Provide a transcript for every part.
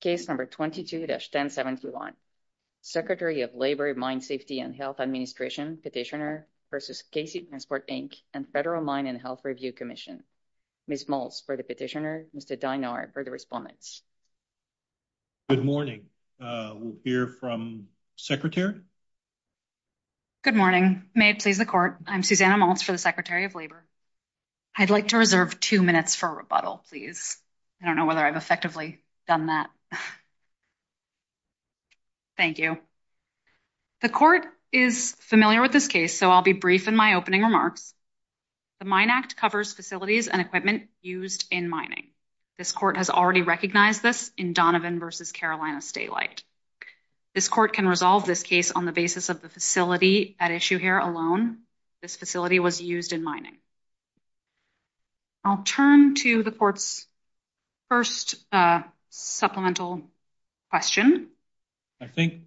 Case number 22-1071, Secretary of Labor, Mine Safety and Health Administration, Petitioner v. KC Transport, Inc., and Federal Mine and Health Review Commission. Ms. Maltz for the petitioner, Mr. Dynard for the respondent. Good morning, we'll hear from the secretary. Good morning, may it please the court, I'm Susanna Maltz for the Secretary of Labor. I'd like to reserve two minutes for rebuttal, please. I don't know whether I've effectively done that. Thank you. The court is familiar with this case, so I'll be brief in my opening remarks. The Mine Act covers facilities and equipment used in mining. This court has already recognized this in Donovan v. Carolina State Light. This court can resolve this case on the basis of the facility at issue here alone. This facility was used in mining. I'll turn to the court's first supplemental question. I think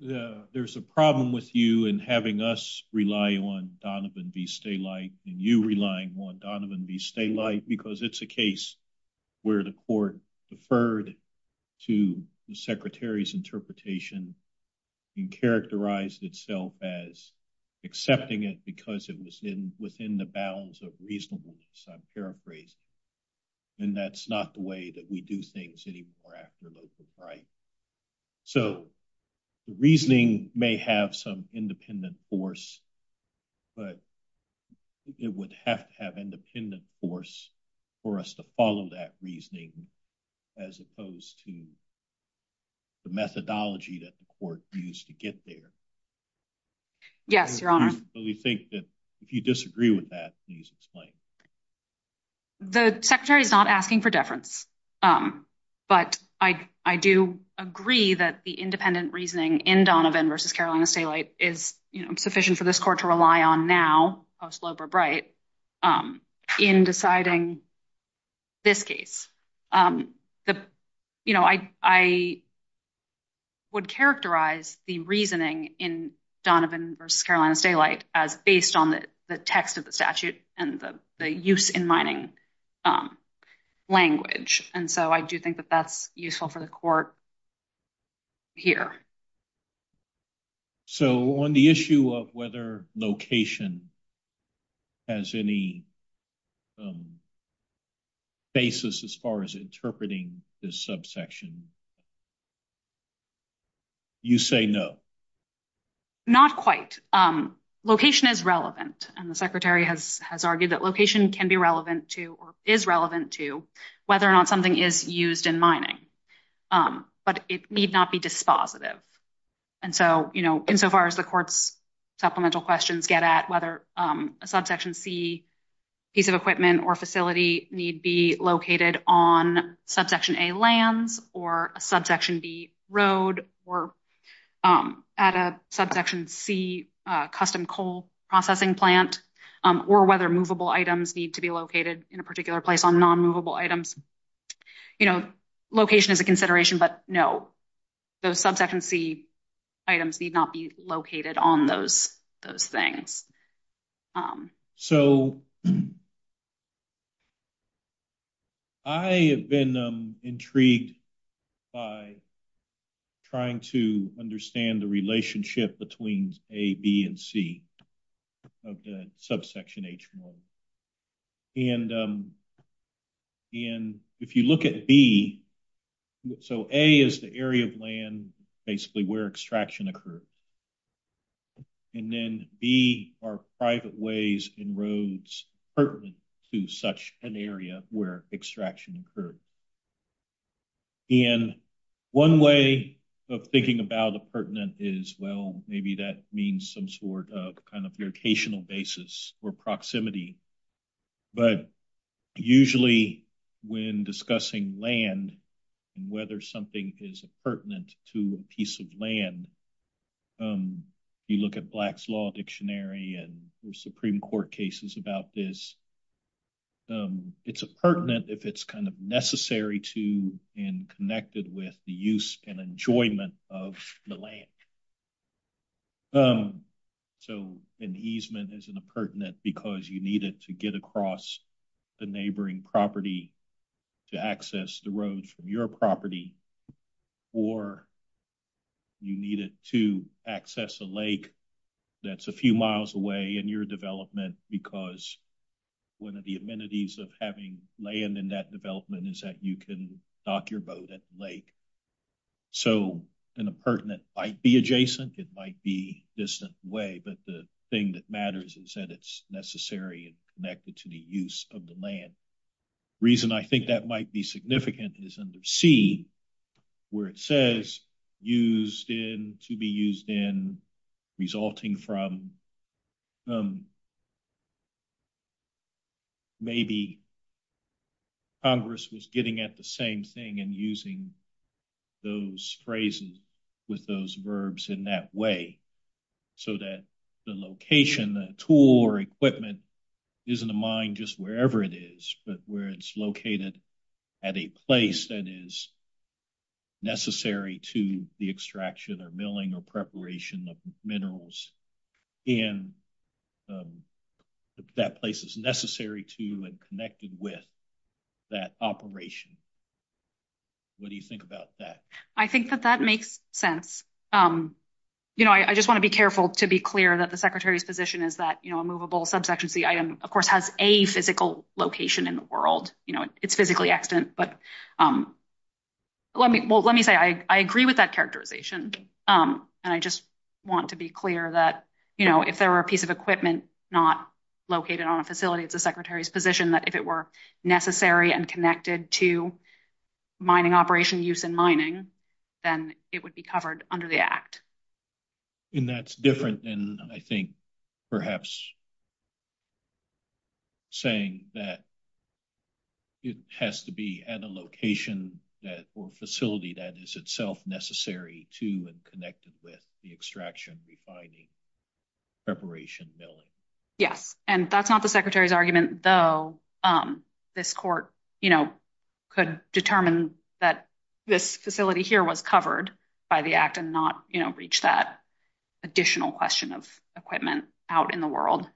there's a problem with you and having us rely on Donovan v. State Light and you relying on Donovan v. State Light because it's a case where the court deferred to the secretary's interpretation and characterized itself as accepting it because it was in within the bounds of reasonableness, I'm paraphrasing. And that's not the way that we do things anymore after local right. So the reasoning may have some independent force, but it would have to have independent force for us to follow that reasoning as opposed to the methodology that the court used to get there. Yes, Your Honor. But we think that if you disagree with that, please explain. The secretary is not asking for deference, but I do agree that the independent reasoning in Donovan v. Carolina State Light is sufficient for this court to rely on now, post-Loeb or Bright, in deciding this case. But, you know, I would characterize the reasoning in Donovan v. Carolina State Light as based on the text of the statute and the use in mining language. And so I do think that that's useful for the court here. So on the issue of whether location has any basis as far as interpreting this subsection, you say no. Not quite. Location is relevant. And the secretary has argued that location can be relevant to, or is relevant to, whether or not something is used in mining. But it need not be dispositive. And so, you know, insofar as the court's supplemental questions get at whether a Subsection C piece of equipment or facility need be located on Subsection A lands or a Subsection B road or at a Subsection C custom coal processing plant, or whether movable items need to be located in a particular place on non-movable items. You know, location is a consideration, but no. The Subsection C items need not be located on those things. So, I have been intrigued by trying to understand the relationship between A, B, and C of the Subsection H. And if you look at B, so A is the area of land basically where extraction occurred. And then B are private ways and roads pertinent to such an area where extraction occurred. And one way of thinking about a pertinent is, well, maybe that means some sort of kind of locational basis or proximity. But usually when discussing land and whether something is pertinent to a piece of land, you look at Black's Law Dictionary and Supreme Court cases about this. It's pertinent if it's kind of necessary to and connected with the use and enjoyment of the land. So, an easement isn't pertinent because you need it to get across the neighboring property to access the roads from your property. Or you need it to access a lake that's a few miles away in your development because one of the amenities of having land in that development is that you can dock your boat at the lake. So, in a pertinent, it might be adjacent, it might be distant way, but the thing that matters is that it's necessary and connected to the use of the land. The reason I think that might be significant is under C where it says used in, to be used in, resulting from. Maybe Congress was getting at the same thing and using those phrases with those verbs in that way so that the location, the tool or equipment isn't a mine just wherever it is, but where it's located at a place that is necessary to the extraction or milling or preparation of minerals. And that place is necessary to and connected with that operation. What do you think about that? I think that that makes sense. I just want to be careful to be clear that the secretary's position is that a movable subsection C item, of course, has a physical location in the world. It's physically excellent, but let me say I agree with that characterization. And I just want to be clear that if there were a piece of equipment not located on a facility, the secretary's position that if it were necessary and connected to mining operation use in mining, then it would be covered under the act. And that's different than, I think, perhaps. Saying that it has to be at a location that or facility that is itself necessary to and connected with the extraction refining preparation. Yeah, and that's not the secretary's argument, though this court could determine that this facility here was covered by the act and not reach that additional question of equipment out in the world.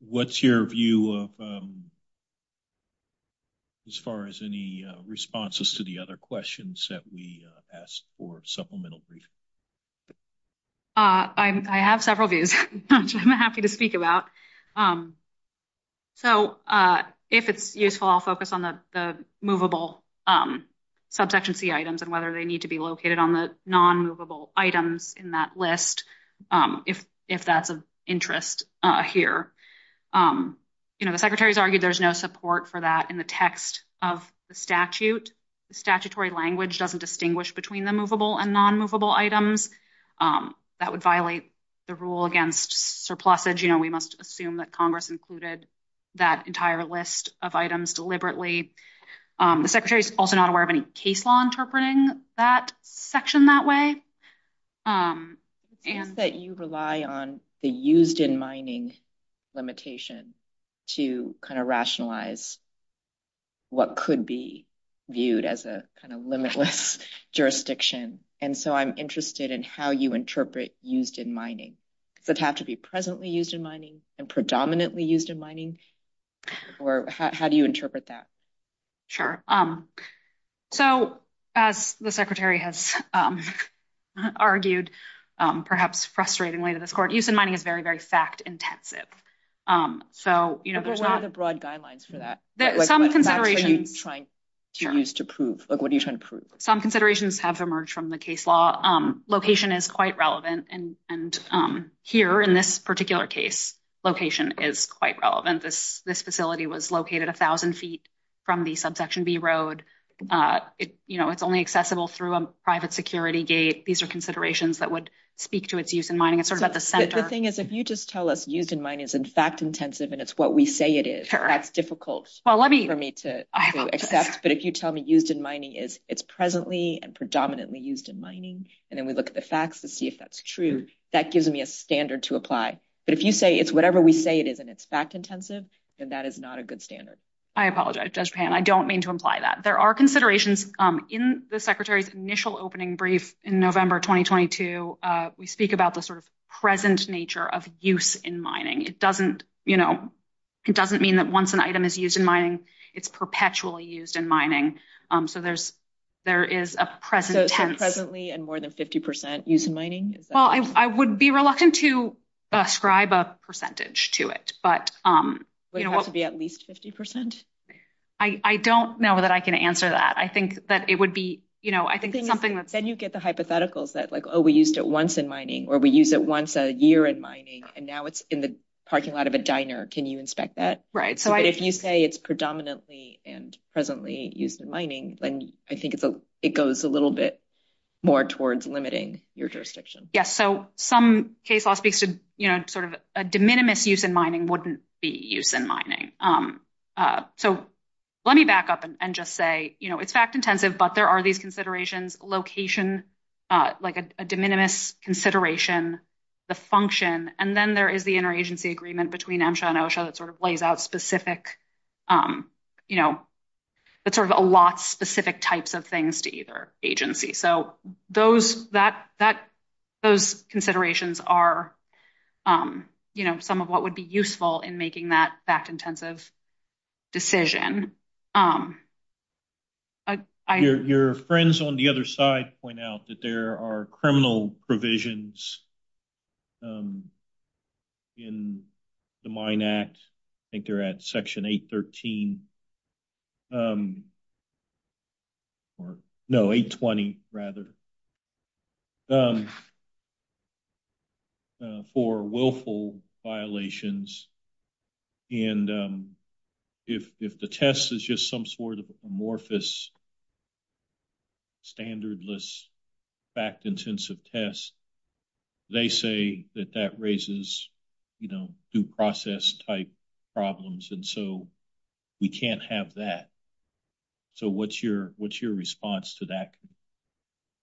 What's your view of. As far as any responses to the other questions that we asked for supplemental. I have several views. I'm happy to speak about. So, if it's useful, I'll focus on the movable subsection C items and whether they need to be located on the non movable items in that list. If that's of interest here. You know, the secretary's argued there's no support for that in the text of the statute statutory language doesn't distinguish between the movable and non movable items. That would violate the rule against surpluses, you know, we must assume that Congress included that entire list of items deliberately. The secretary's also not aware of any case law interpreting that section that way. And that you rely on the used in mining limitation to kind of rationalize What could be viewed as a kind of limitless jurisdiction. And so I'm interested in how you interpret used in mining, but have to be presently used in mining and predominantly used in mining or how do you interpret that. Sure. Um, so as the secretary has Argued perhaps frustratingly to this court, used in mining is very, very fact intensive. So, you know, there's a broad guidelines for that. Some considerations have emerged from the case law location is quite relevant and here in this particular case location is quite relevant. This facility was located 1000 feet from the subsection B road. You know, it's only accessible through a private security gate. These are considerations that would speak to its use in mining. The thing is, if you just tell us used in mining is in fact intensive and it's what we say it is difficult for me to Accept. But if you tell me used in mining is it's presently and predominantly used in mining and then we look at the facts to see if that's true. That gives me a standard to apply. But if you say it's whatever we say it is and it's fact intensive and that is not a good standard. I apologize. I don't mean to imply that there are considerations in the secretary's initial opening brief in November 2022 We speak about the sort of present nature of use in mining. It doesn't, you know, it doesn't mean that once an item is used in mining it's perpetually used in mining. So there's, there is a present Presently and more than 50% use mining. Well, I would be reluctant to ascribe a percentage to it, but Would it have to be at least 50%? I don't know that I can answer that. I think that it would be, you know, I think Then you get the hypotheticals that like, oh, we used it once in mining or we use it once a year in mining and now it's in the parking lot of a diner. Can you inspect that? Right. So if you say it's predominantly and presently used in mining, then I think it goes a little bit more towards limiting your jurisdiction. Yes. So some case law speaks to, you know, sort of a de minimis use in mining wouldn't be use in mining. So let me back up and just say, you know, it's fact intensive, but there are these considerations location, like a de minimis consideration The function and then there is the interagency agreement between NAMSHA and OSHA that sort of lays out specific You know, that sort of allots specific types of things to either agency. So those, that, those considerations are You know, some of what would be useful in making that fact intensive decision. Your friends on the other side point out that there are criminal provisions. In the Mine Act, I think they're at Section 813. No, 820 rather. For willful violations. And if the test is just some sort of amorphous Standardless fact intensive test. They say that that raises, you know, due process type problems. And so we can't have that. So what's your, what's your response to that?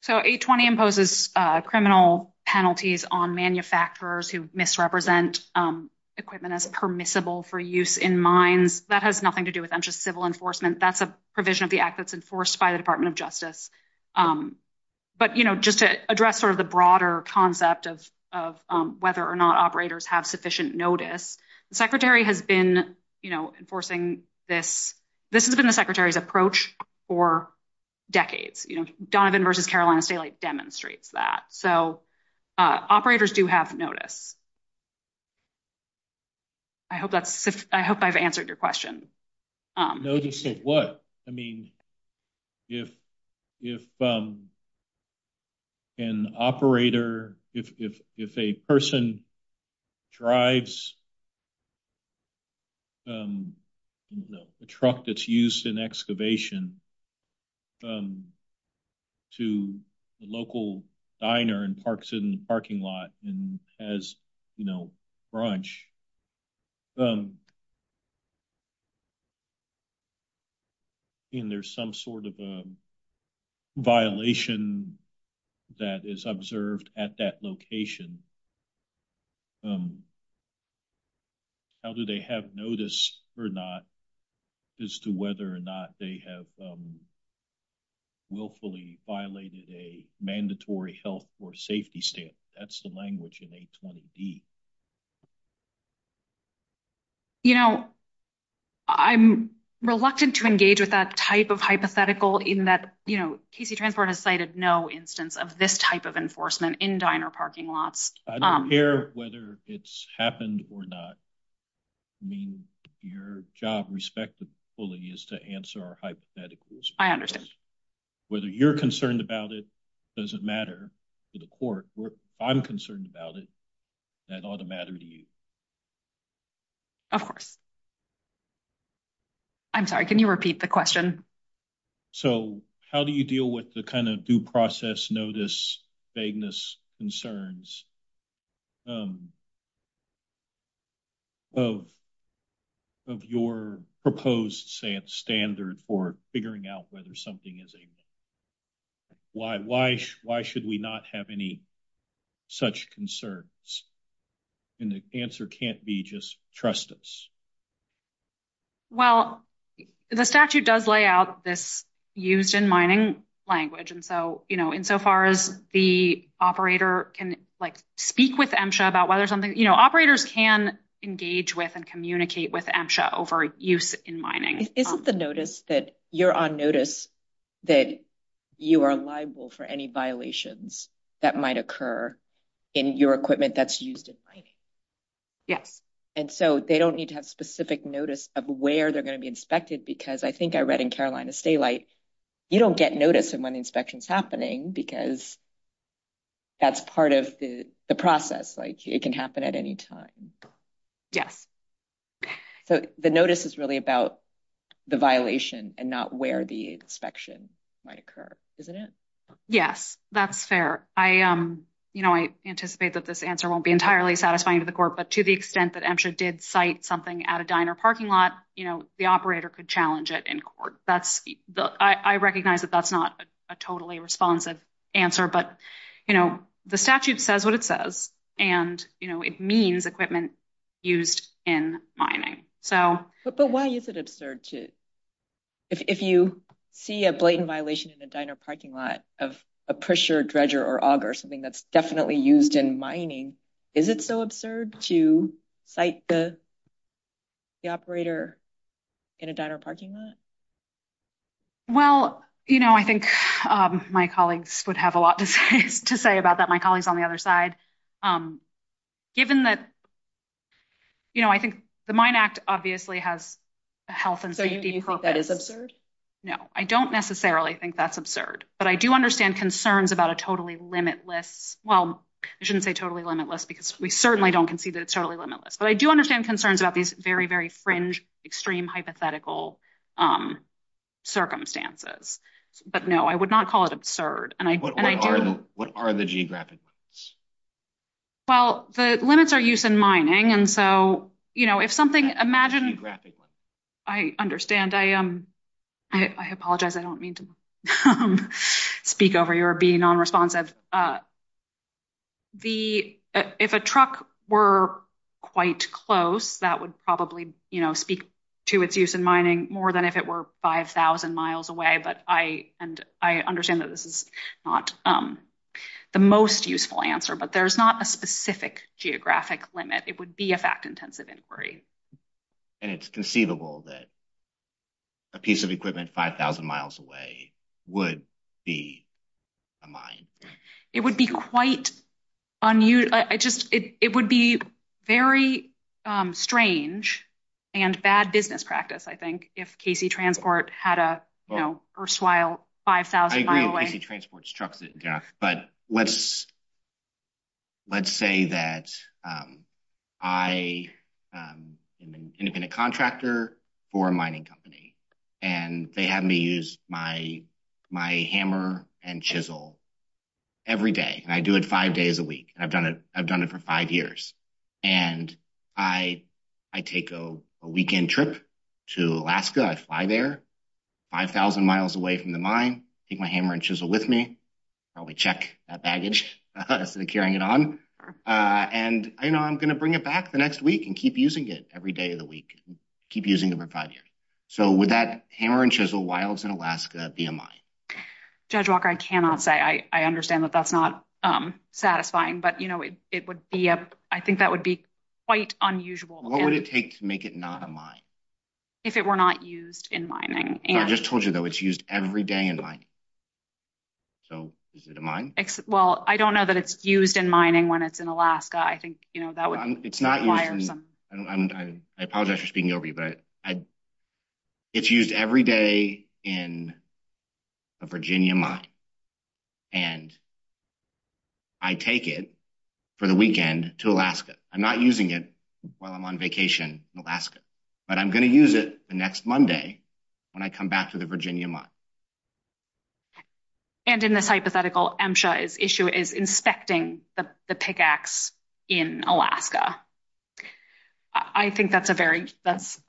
So 820 imposes criminal penalties on manufacturers who misrepresent Equipment as permissible for use in mines. That has nothing to do with civil enforcement. That's a provision of the Act that's enforced by the Department of Justice. But, you know, just to address sort of the broader concept of whether or not operators have sufficient notice. The Secretary has been, you know, enforcing this This has been the Secretary's approach for decades. You know, Donovan v. Carolina State demonstrates that. So operators do have notice. I hope that's, I hope I've answered your question. Notice of what? I mean, if An operator, if a person drives A truck that's used in excavation To the local diner and parks it in the parking lot and has, you know, brunch. And there's some sort of a violation that is observed at that location. How do they have notice or not as to whether or not they have Willfully violated a mandatory health or safety stamp. That's the language in 820D. You know, I'm reluctant to engage with that type of hypothetical in that, you know, KC Transport has cited no instance of this type of enforcement in diner parking lots. I don't care whether it's happened or not. I mean, your job, respectfully, is to answer our hypotheticals. I understand. Whether you're concerned about it doesn't matter to the court. I'm concerned about it. That ought to matter to you. Of course. I'm sorry. Can you repeat the question. So how do you deal with the kind of due process notice vagueness concerns. Of your proposed standard for figuring out whether something is a Why, why, why should we not have any such concerns and the answer can't be just trust us. Well, the statute does lay out this used in mining language. And so, you know, in so far as the operator can like speak with them show about whether something, you know, operators can engage with and communicate with them show for use in mining. Isn't the notice that you're on notice that you are liable for any violations that might occur in your equipment that's used. And so they don't need to have specific notice of where they're going to be inspected because I think I read in Carolina state like you don't get notice of when inspections happening because That's part of the process like it can happen at any time. Yeah. The notice is really about the violation and not where the inspection might occur, isn't it. Yes, that's fair. I am, you know, I anticipate that this answer won't be entirely satisfying to the court, but to the extent that entered did cite something at a diner parking lot, you know, the operator could challenge it in court. That's I recognize that that's not a totally responsive answer. But, you know, the statute says what it says. And, you know, it means equipment used in mining. So, But why is it absurd to If you see a blatant violation in a diner parking lot of a pressure dredger or auger something that's definitely used in mining. Is it so absurd to cite the The operator in a diner parking lot. Well, you know, I think my colleagues would have a lot to say about that. My colleagues on the other side. Given that You know, I think the mine act obviously has a health and safety. Hope that is absurd. No, I don't necessarily think that's absurd, but I do understand concerns about a totally limitless well shouldn't say totally limitless because we certainly don't concede that it's totally limitless, but I do understand concerns about these very, very fringe extreme hypothetical Circumstances, but no, I would not call it absurd. And I What are the geographic Well, the limits are used in mining. And so, you know, if something imagine I understand. I am. I apologize. I don't mean to Speak over your being non responsive. The if a truck were quite close that would probably, you know, speak to its use in mining more than if it were 5000 miles away, but I and I understand that this is not The most useful answer, but there's not a specific geographic limit. It would be a fact intensive inquiry. And it's conceivable that A piece of equipment 5000 miles away would be Mine, it would be quite on you. I just, it would be very strange and bad business practice. I think if Casey transport had a, you know, first while 5000 But let's Let's say that I Was a contractor for a mining company and they had me use my, my hammer and chisel every day. I do it five days a week. I've done it. I've done it for five years. And I, I take a weekend trip to Alaska. I fly there 5000 miles away from the mine. Take my hammer and chisel with me. I'll be check baggage. Carrying it on and I'm going to bring it back the next week and keep using it every day of the week. Keep using the project. So with that hammer and chisel while it's in Alaska. Judge Walker. I cannot say I understand that that's not satisfying. But, you know, it would be a, I think that would be quite unusual. What would it take to make it not a mine. If it were not used in mining. I just told you that was used every day in line. So mine. Well, I don't know that it's used in mining when it's in Alaska. I think, you know, that was, it's not I apologize for speaking over you, but It's used every day in A Virginia month. And I take it for the weekend to Alaska. I'm not using it while I'm on vacation Alaska, but I'm going to use it the next Monday when I come back to the Virginia month. And in this hypothetical issue is inspecting the pickaxe in Alaska. I think that's a very, that's,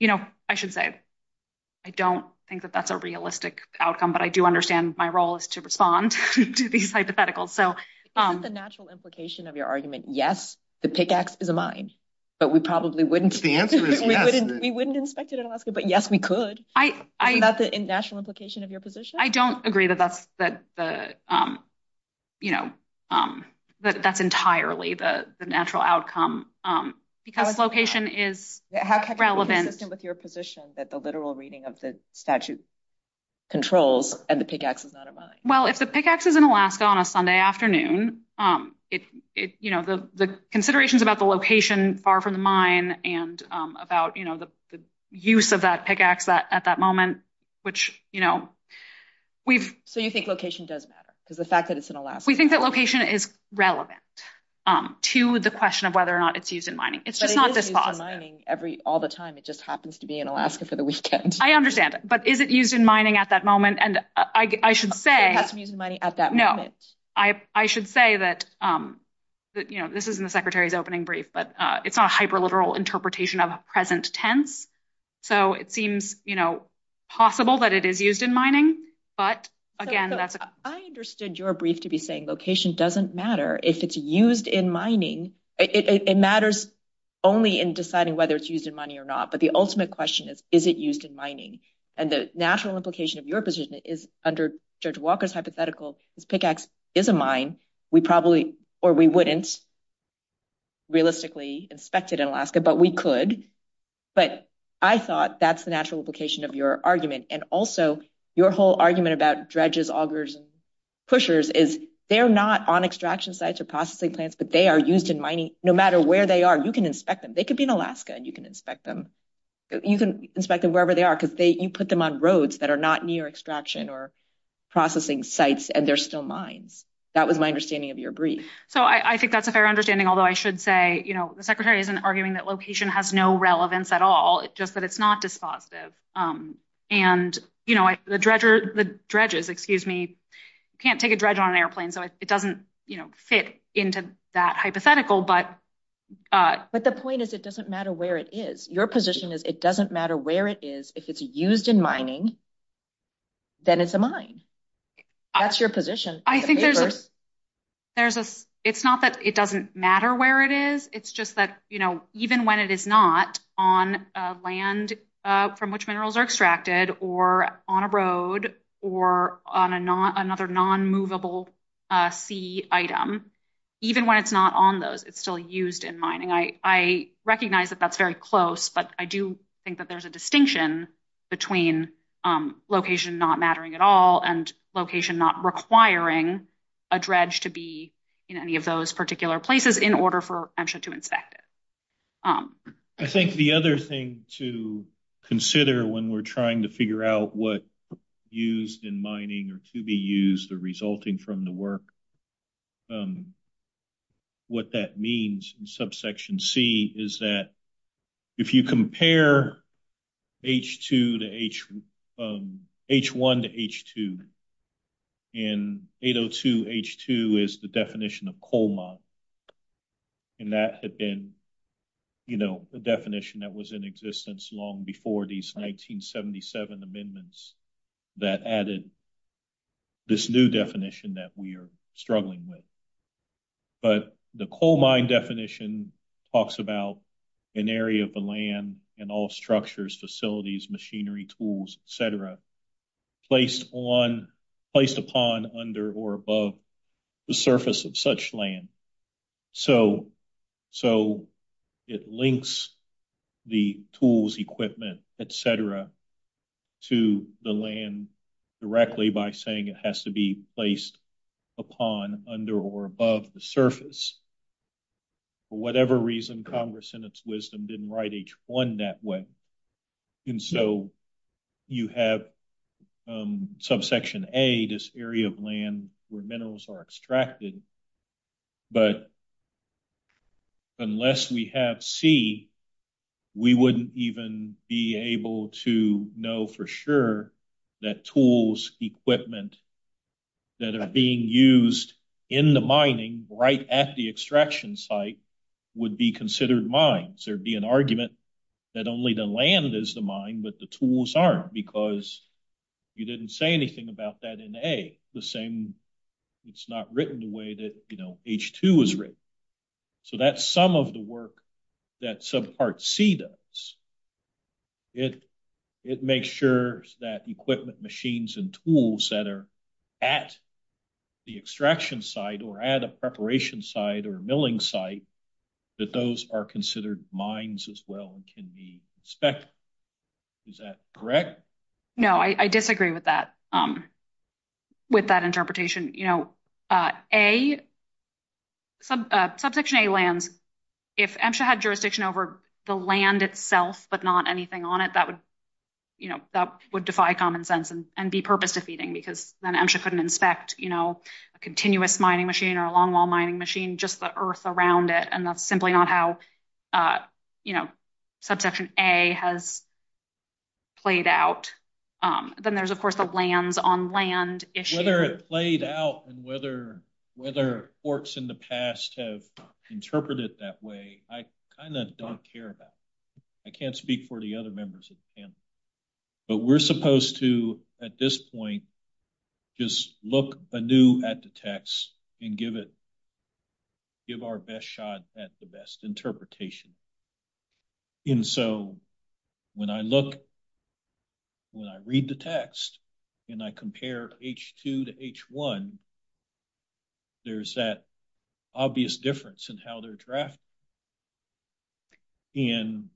you know, I should say, I don't think that that's a realistic outcome, but I do understand my role is to respond to these hypotheticals. So The natural implication of your argument. Yes, the pickaxe is a mine, but we probably wouldn't We wouldn't inspect it in Alaska, but yes, we could. That's the natural implication of your position. I don't agree that that's that You know, that that's entirely the natural outcome because location is relevant. With your position that the literal reading of the statute controls and the pickaxe is not a mine. Well, if the pickaxe is in Alaska on a Sunday afternoon. It's, you know, the considerations about the location far from the mine and about, you know, the use of that pickaxe at that moment, which, you know, So you think location does matter because the fact that it's in Alaska. We think that location is relevant to the question of whether or not it's used in mining. It's just not this far. It's used in mining all the time. It just happens to be in Alaska for the weekend. I understand, but is it used in mining at that moment? And I should say, No, I should say that, you know, this isn't the Secretary's opening brief, but it's not a hyper literal interpretation of a present tense. So it seems, you know, possible that it is used in mining, but again, I understood your brief to be saying location doesn't matter if it's used in mining. It matters only in deciding whether it's used in mining or not. But the ultimate question is, is it used in mining? And the natural implication of your position is under Judge Walker's hypothetical pickaxe is a mine. We probably or we wouldn't realistically inspect it in Alaska, but we could. But I thought that's the natural implication of your argument. And also your whole argument about dredges, augers, pushers is they're not on extraction sites or processing plants, but they are used in mining. No matter where they are, you can inspect them. They could be in Alaska and you can inspect them. You can inspect them wherever they are because you put them on roads that are not near extraction or processing sites and they're still mines. That was my understanding of your brief. So I think that's a fair understanding, although I should say, you know, the Secretary isn't arguing that location has no relevance at all, just that it's not dispositive. And, you know, the dredger, the dredges, excuse me, can't take a dredge on an airplane. So it doesn't fit into that hypothetical. But the point is, it doesn't matter where it is. Your position is it doesn't matter where it is. If it's used in mining, then it's a mine. That's your position. I think there's a it's not that it doesn't matter where it is. It's just that, you know, even when it is not on land from which minerals are extracted or on a road or on another non-movable sea item, even when it's not on those, it's still used in mining. I recognize that that's very close, but I do think that there's a distinction between location not mattering at all and location not requiring a dredge to be in any of those particular places in order for EMSHA to inspect it. I think the other thing to consider when we're trying to figure out what used in mining or to be used or resulting from the work, what that means in subsection C is that if you compare H2 to H1 to H2, in 802 H2 is the definition of coal mine. And that had been, you know, the definition that was in existence long before these 1977 amendments that added this new definition that we are struggling with. But the coal mine definition talks about an area of the land and all structures, facilities, machinery, tools, et cetera, placed upon, under, or above the surface of such land. So it links the tools, equipment, et cetera, to the land directly by saying it has to be placed upon, under, or above the surface. For whatever reason, Congress in its wisdom didn't write H1 that way. And so you have subsection A, this area of land where minerals are extracted. But unless we have C, we wouldn't even be able to know for sure that tools, equipment that are being used in the mining right at the extraction site would be considered mines. There'd be an argument that only the land is the mine, but the tools aren't because you didn't say anything about that in A. The same, it's not written the way that, you know, H2 is written. So that's some of the work that subpart C does. It makes sure that equipment, machines, and tools that are at the extraction site or at a preparation site or a milling site, that those are considered mines as well and can be inspected. Is that correct? No, I disagree with that, with that interpretation. You know, A, subsection A lands, if MSHA had jurisdiction over the land itself, but not anything on it, that would, you know, that would defy common sense and be purpose-defeating because then MSHA couldn't inspect, you know, a continuous mining machine or a longwall mining machine, just the earth around it. And that's simply not how, you know, subsection A has played out. Then there's, of course, the lands on land issue. Whether it played out and whether forks in the past have interpreted it that way, I kind of don't care about. I can't speak for the other members of the panel. But we're supposed to, at this point, just look anew at the text and give it, give our best shot at the best interpretation. And so when I look, when I read the text and I compare H2 to H1, there's that obvious difference in how they're drafted. And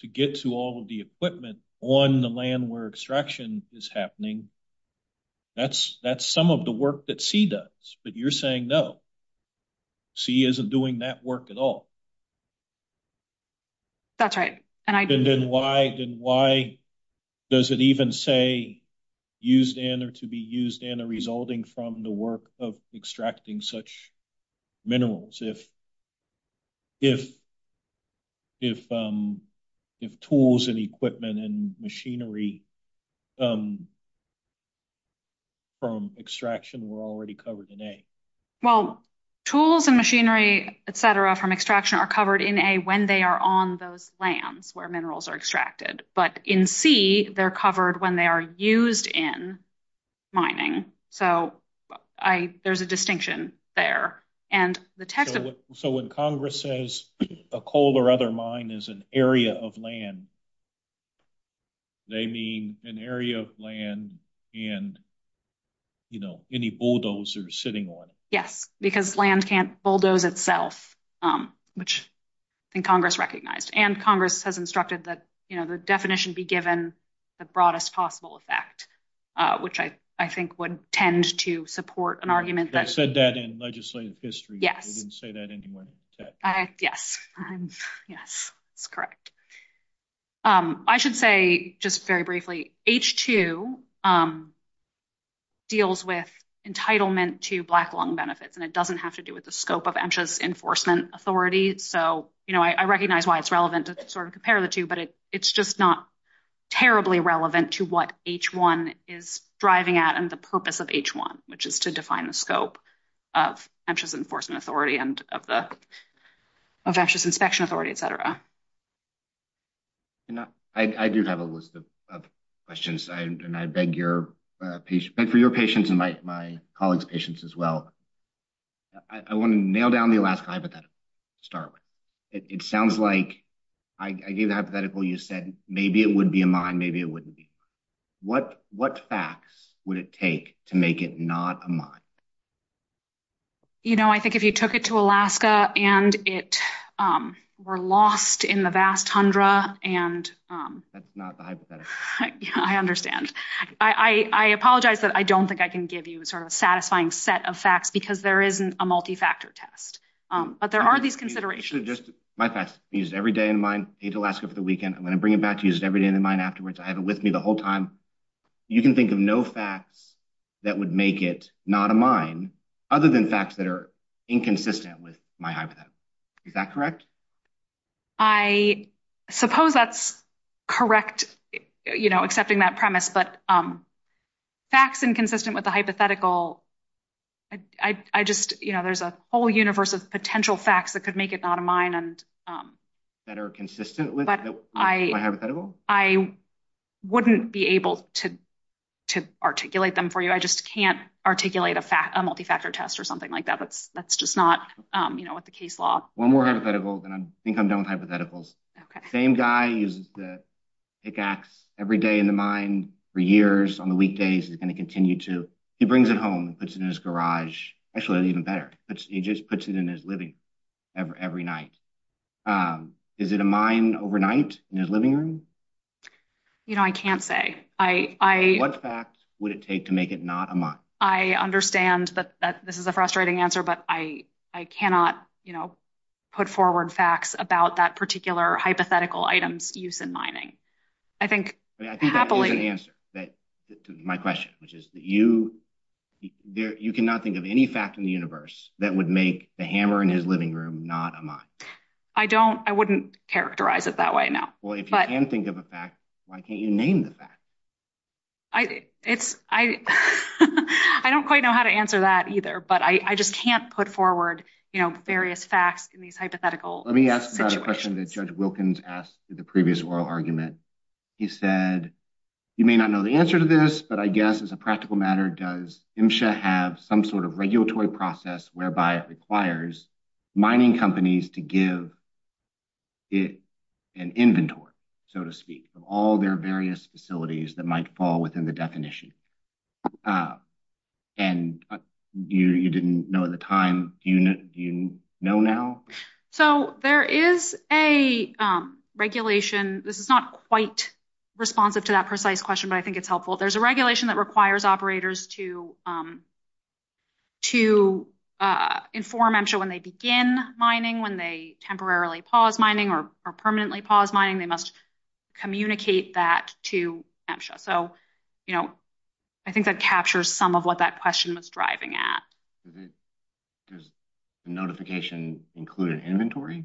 to get to all of the equipment on the land where extraction is happening, that's some of the work that C does. But you're saying, no, C isn't doing that work at all. That's right. And then why does it even say used in or to be used in or resulting from the work of extracting such minerals if tools and equipment and machinery from extraction were already covered in A? Well, tools and machinery, et cetera, from extraction are covered in A when they are on those lands where minerals are extracted. But in C, they're covered when they are used in mining. So there's a distinction there. So when Congress says a coal or other mine is an area of land, they mean an area of land and any bulldozer sitting on it. Yes, because land can't bulldoze itself, which I think Congress recognized. And Congress has instructed that the definition be given the broadest possible effect, which I think would tend to support an argument. They said that in legislative history. They didn't say that anywhere. Yes. Yes, that's correct. I should say just very briefly, H2 deals with entitlement to black lung benefits, and it doesn't have to do with the scope of Ensha's enforcement authority. So, you know, I recognize why it's relevant to sort of compare the two, but it's just not terribly relevant to what H1 is driving at and the purpose of H1, which is to define the scope of Ensha's enforcement authority and of Ensha's inspection authority, et cetera. I do have a list of questions, and I beg for your patience and my colleagues' patience as well. I want to nail down the Alaska hypothetical to start with. It sounds like I gave the hypothetical, you said maybe it would be a mine, maybe it wouldn't be. What facts would it take to make it not a mine? You know, I think if you took it to Alaska and it were lost in the vast tundra and... That's not the hypothetical. I understand. I apologize, but I don't think I can give you sort of a satisfying set of facts because there isn't a multi-factor test. But there are these considerations. My facts. I used every day in mine into Alaska for the weekend. I'm going to bring it back to use it every day in mine afterwards. I have it with me the whole time. You can think of no facts that would make it not a mine other than facts that are inconsistent with my hypothetical. Is that correct? I suppose that's correct, you know, accepting that premise. But facts inconsistent with the hypothetical, I just, you know, there's a whole universe of potential facts that could make it not a mine. That are consistent with my hypothetical? I wouldn't be able to articulate them for you. I just can't articulate a multi-factor test or something like that. That's just not, you know, what the case law. One more hypothetical, and I think I'm done with hypotheticals. Same guy uses the pickaxe every day in the mine for years on the weekdays. He's going to continue to. He brings it home, puts it in his garage. Actually, even better. He just puts it in his living room every night. Is it a mine overnight in his living room? You know, I can't say. What facts would it take to make it not a mine? I understand that this is a frustrating answer, but I cannot, you know, put forward facts about that particular hypothetical item's use in mining. I think happily. I think that's a good answer to my question, which is that you cannot think of any fact in the universe that would make the hammer in his living room not a mine. I don't, I wouldn't characterize it that way, no. Well, if you can think of a fact, why can't you name the fact? I, it's, I, I don't quite know how to answer that either, but I just can't put forward, you know, various facts in these hypothetical. Let me ask the question that Judge Wilkins asked in the previous oral argument. He said, you may not know the answer to this, but I guess it's a practical matter. Does MSHA have some sort of regulatory process whereby it requires mining companies to give it an inventory, so to speak, of all their various facilities that might fall within the definition? And you didn't know at the time. Do you know now? So, there is a regulation. This is not quite responsive to that precise question, but I think it's helpful. There's a regulation that requires operators to, to inform MSHA when they begin mining, when they temporarily pause mining or permanently pause mining. They must communicate that to MSHA. So, you know, I think that captures some of what that question was driving at. Does the notification include an inventory?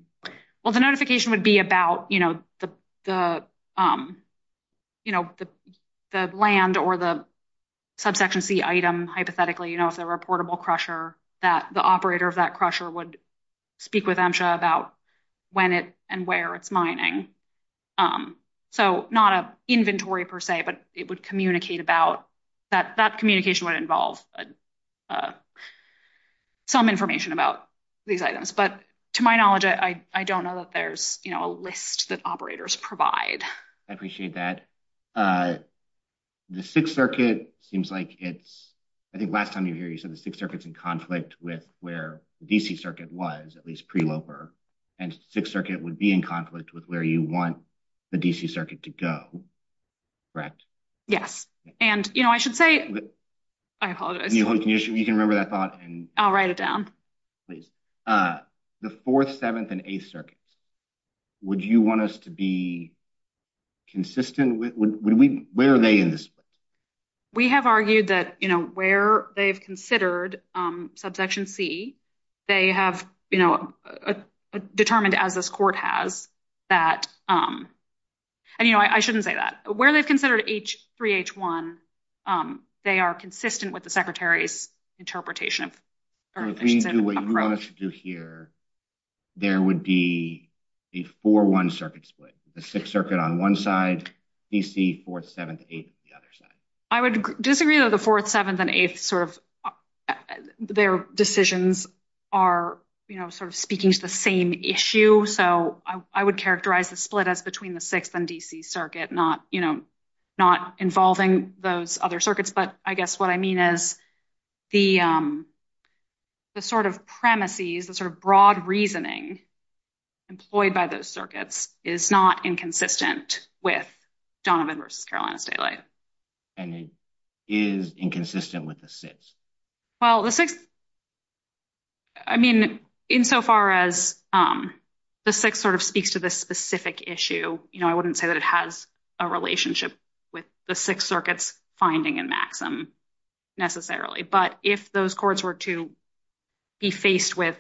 Well, the notification would be about, you know, the, you know, the land or the subsequency item, hypothetically. You know, if there were a portable crusher that the operator of that crusher would speak with MSHA about when it and where it's mining. So, not an inventory per se, but it would communicate about that. That communication would involve some information about these items. But, to my knowledge, I don't know that there's, you know, a list that operators provide. I appreciate that. The Sixth Circuit seems like it's, I think last time you were here, you said the Sixth Circuit's in conflict with where the DC Circuit was, at least pre-Loper. And Sixth Circuit would be in conflict with where you want the DC Circuit to go. Correct? Yes. And, you know, I should say, I apologize. You can remember that thought. I'll write it down. Please. The Fourth, Seventh, and Eighth Circuits. Would you want us to be consistent? Where are they in this? We have argued that, you know, where they've considered subsection C, they have, you know, determined, as this court has, that, you know, I shouldn't say that. Where they've considered H3H1, they are consistent with the Secretary's interpretation. So, if we do what you promised to do here, there would be a 4-1 circuit split. The Sixth Circuit on one side, DC, Fourth, Seventh, Eighth on the other side. I would disagree with the Fourth, Seventh, and Eighth sort of, their decisions are, you know, sort of speaking to the same issue. So, I would characterize the split as between the Sixth and DC Circuit, not, you know, not involving those other circuits. But I guess what I mean is the sort of premises, the sort of broad reasoning employed by those circuits is not inconsistent with Donovan v. Carolina Staley. And it is inconsistent with the Sixth? Well, the Sixth, I mean, insofar as the Sixth sort of speaks to this specific issue, you know, I wouldn't say that it has a relationship with the Sixth Circuit's finding in Maxim necessarily. But if those courts were to be faced with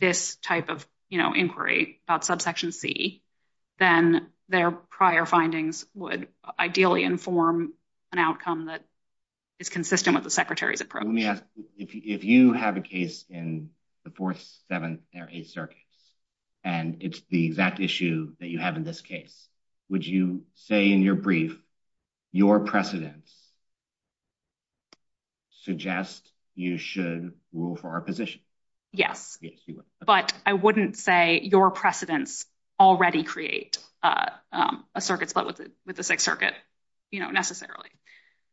this type of, you know, inquiry about Subsection C, then their prior findings would ideally inform an outcome that is consistent with the Secretary's approach. So, let me ask, if you have a case in the Fourth, Seventh, and Eighth Circuits, and it's the exact issue that you have in this case, would you say in your brief, your precedents suggest you should rule for our position? Yes. But I wouldn't say your precedents already create a circuit split with the Sixth Circuit, you know, necessarily.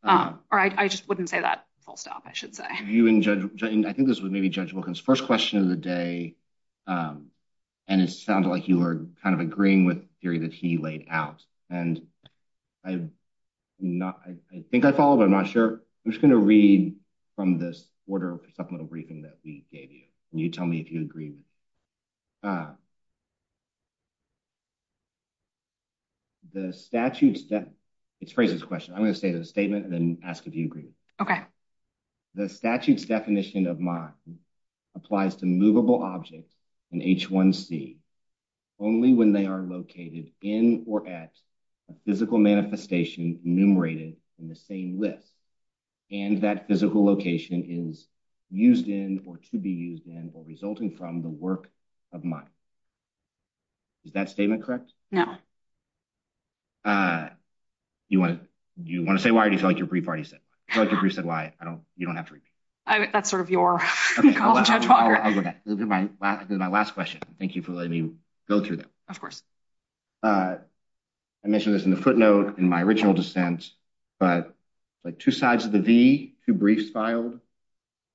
Or I just wouldn't say that. I'll stop, I should say. I think this was maybe Judge Wilkins' first question of the day, and it sounded like you were kind of agreeing with the theory that he laid out. And I think that's all, but I'm not sure. I'm just going to read from this order of supplemental briefing that we gave you, and you tell me if you agree. The statute's – it's a crazy question. I'm going to say the statement and then ask if you agree. Okay. The statute's definition of mod applies to movable objects in H1C only when they are located in or at a physical manifestation enumerated in the same list, and that physical location is used in or to be used in or resulting from the work of mod. Is that statement correct? No. Do you want to say why or do you feel like your brief already said? I feel like your brief said why. You don't have to read it. That's sort of your call to action. Okay. This is my last question. Thank you for letting me go through that. Of course. I mentioned this in the footnote in my original dissent, but it's like two sides of the V, two briefs filed.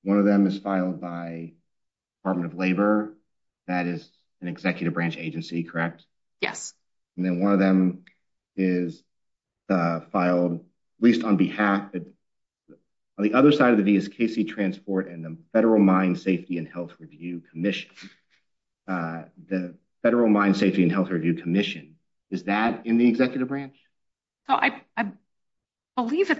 One of them is filed by the Department of Labor. That is an executive branch agency, correct? Yes. And then one of them is filed at least on behalf of – on the other side of the V is KC Transport and the Federal Mine Safety and Health Review Commission. The Federal Mine Safety and Health Review Commission. Is that in the executive branch? I believe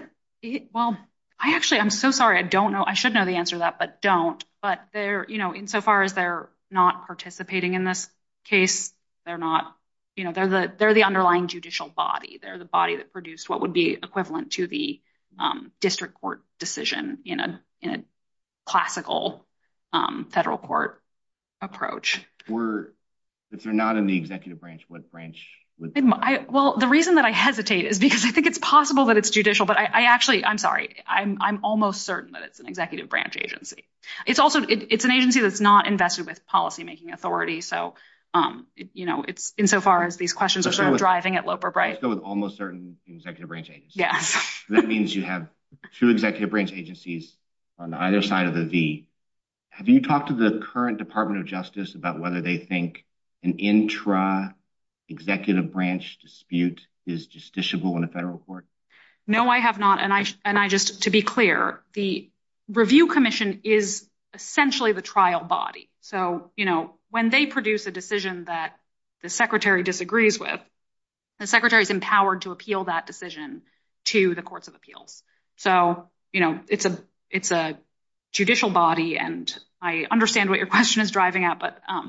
it – well, I actually – I'm so sorry. I don't know. I should know the answer to that, but don't. But they're – insofar as they're not participating in this case, they're not – they're the underlying judicial body. They're the body that produced what would be equivalent to the district court decision in a classical federal court approach. If they're not in the executive branch, what branch would they be? Well, the reason that I hesitate is because I think it's possible that it's judicial, but I actually – I'm sorry. I'm almost certain that it's an executive branch agency. It's also – it's an agency that's not invested with policymaking authority. So, you know, it's – insofar as these questions are sort of driving at Loper-Bright. Yeah. That means you have two executive branch agencies on either side of the V. Have you talked to the current Department of Justice about whether they think an intra-executive branch dispute is justiciable in a federal court? No, I have not. And I just – to be clear, the review commission is essentially the trial body. So, you know, when they produce a decision that the secretary disagrees with, the secretary is empowered to appeal that decision to the courts of appeals. So, you know, it's a judicial body, and I understand what your question is driving at, but – But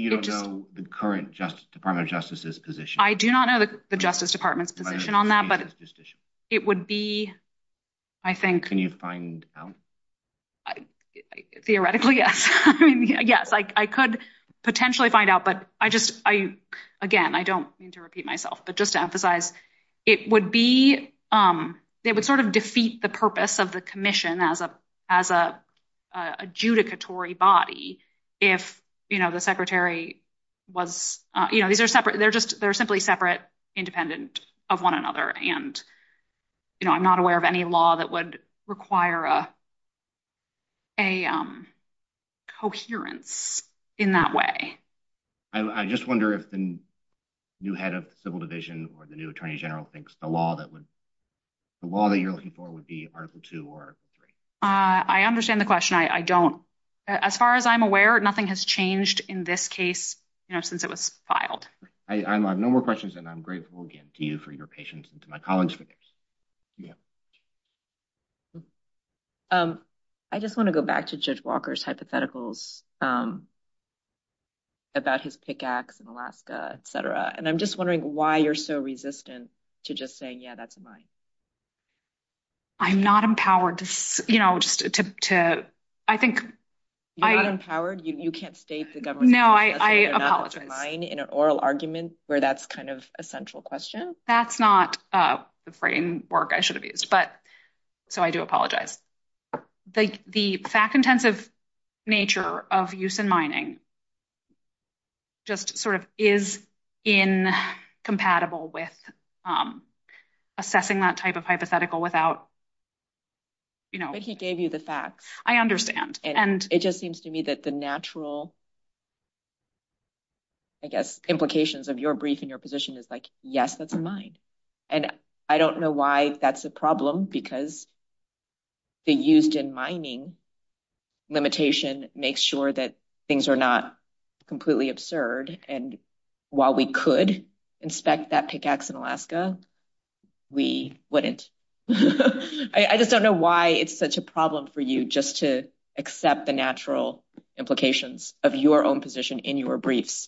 you don't know the current Department of Justice's position? I do not know the Justice Department's position on that, but it would be, I think – Can you find out? Theoretically, yes. I mean, yes, I could potentially find out, but I just – again, I don't mean to repeat myself, but just to emphasize, it would be – it would sort of defeat the purpose of the commission as an adjudicatory body if, you know, the secretary was – you know, these are separate – they're just – they're simply separate, independent of one another. And, you know, I'm not aware of any law that would require a coherence in that way. I just wonder if the new head of civil division or the new attorney general thinks the law that would – the law that you're looking for would be Article 2 or Article 3. I understand the question. I don't – as far as I'm aware, nothing has changed in this case, you know, since it was filed. I have no more questions, and I'm grateful again to you for your patience and to my colleagues. I just want to go back to Judge Walker's hypotheticals about his pickaxe in Alaska, et cetera, and I'm just wondering why you're so resistant to just saying, yeah, that's mine. I'm not empowered to, you know, just to – I think – You're not empowered? You can't state the government's – No, I apologize. – in an oral argument where that's kind of a central question? That's not the framework I should have used, but – so I do apologize. The fact-intensive nature of use in mining just sort of is incompatible with assessing that type of hypothetical without, you know – But he gave you the facts. I understand, and – It seems to me that the natural, I guess, implications of your brief and your position is like, yes, that's mine. And I don't know why that's a problem, because the used-in mining limitation makes sure that things are not completely absurd, and while we could inspect that pickaxe in Alaska, we wouldn't. I just don't know why it's such a problem for you just to accept the natural implications of your own position in your brief.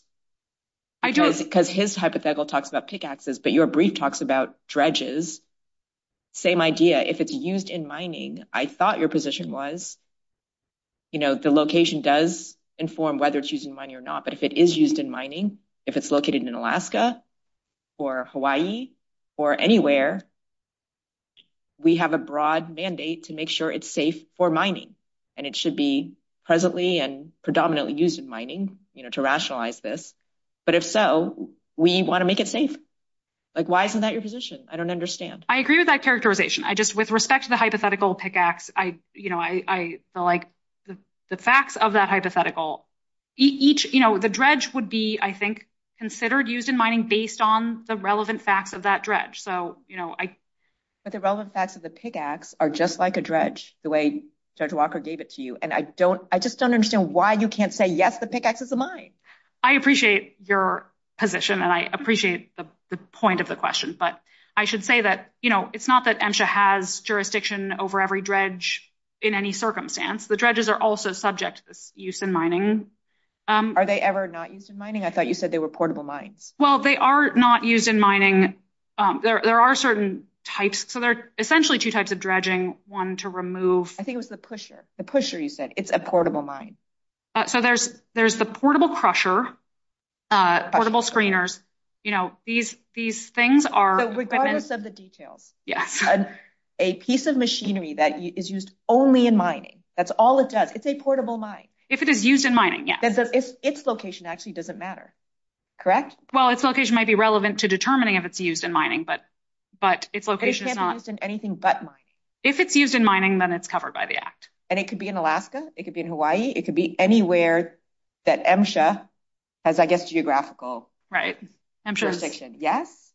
I don't. Because his hypothetical talks about pickaxes, but your brief talks about dredges. Same idea. If it's used in mining, I thought your position was, you know, the location does inform whether it's used in mining or not, but if it is used in mining, if it's located in Alaska or Hawaii or anywhere, we have a broad mandate to make sure it's safe for mining. And it should be presently and predominantly used in mining, you know, to rationalize this. But if so, we want to make it safe. Like, why isn't that your position? I don't understand. I agree with that characterization. I just, with respect to the hypothetical pickaxe, I, you know, I feel like the facts of that hypothetical – Each, you know, the dredge would be, I think, considered used in mining based on the relevant facts of that dredge. But the relevant facts of the pickaxe are just like a dredge, the way Judge Walker gave it to you, and I just don't understand why you can't say, yes, the pickaxe is a mine. I appreciate your position, and I appreciate the point of the question, but I should say that, you know, it's not that MSHA has jurisdiction over every dredge in any circumstance. The dredges are also subject to use in mining. Are they ever not used in mining? I thought you said they were portable mines. Well, they are not used in mining. There are certain types. So, there are essentially two types of dredging. One to remove – I think it was the pusher. The pusher, you said. It's a portable mine. So, there's the portable crusher, portable screeners. You know, these things are – Regardless of the details. Yes. A piece of machinery that is used only in mining. That's all it does. It's a portable mine. If it is used in mining, yes. Its location actually doesn't matter. Correct? Well, its location might be relevant to determining if it's used in mining, but its location is not – They can't be used in anything but mining. If it's used in mining, then it's covered by the Act. And it could be in Alaska. It could be in Hawaii. It could be anywhere that MSHA has, I guess, geographical jurisdiction. Right. MSHA's – Yes?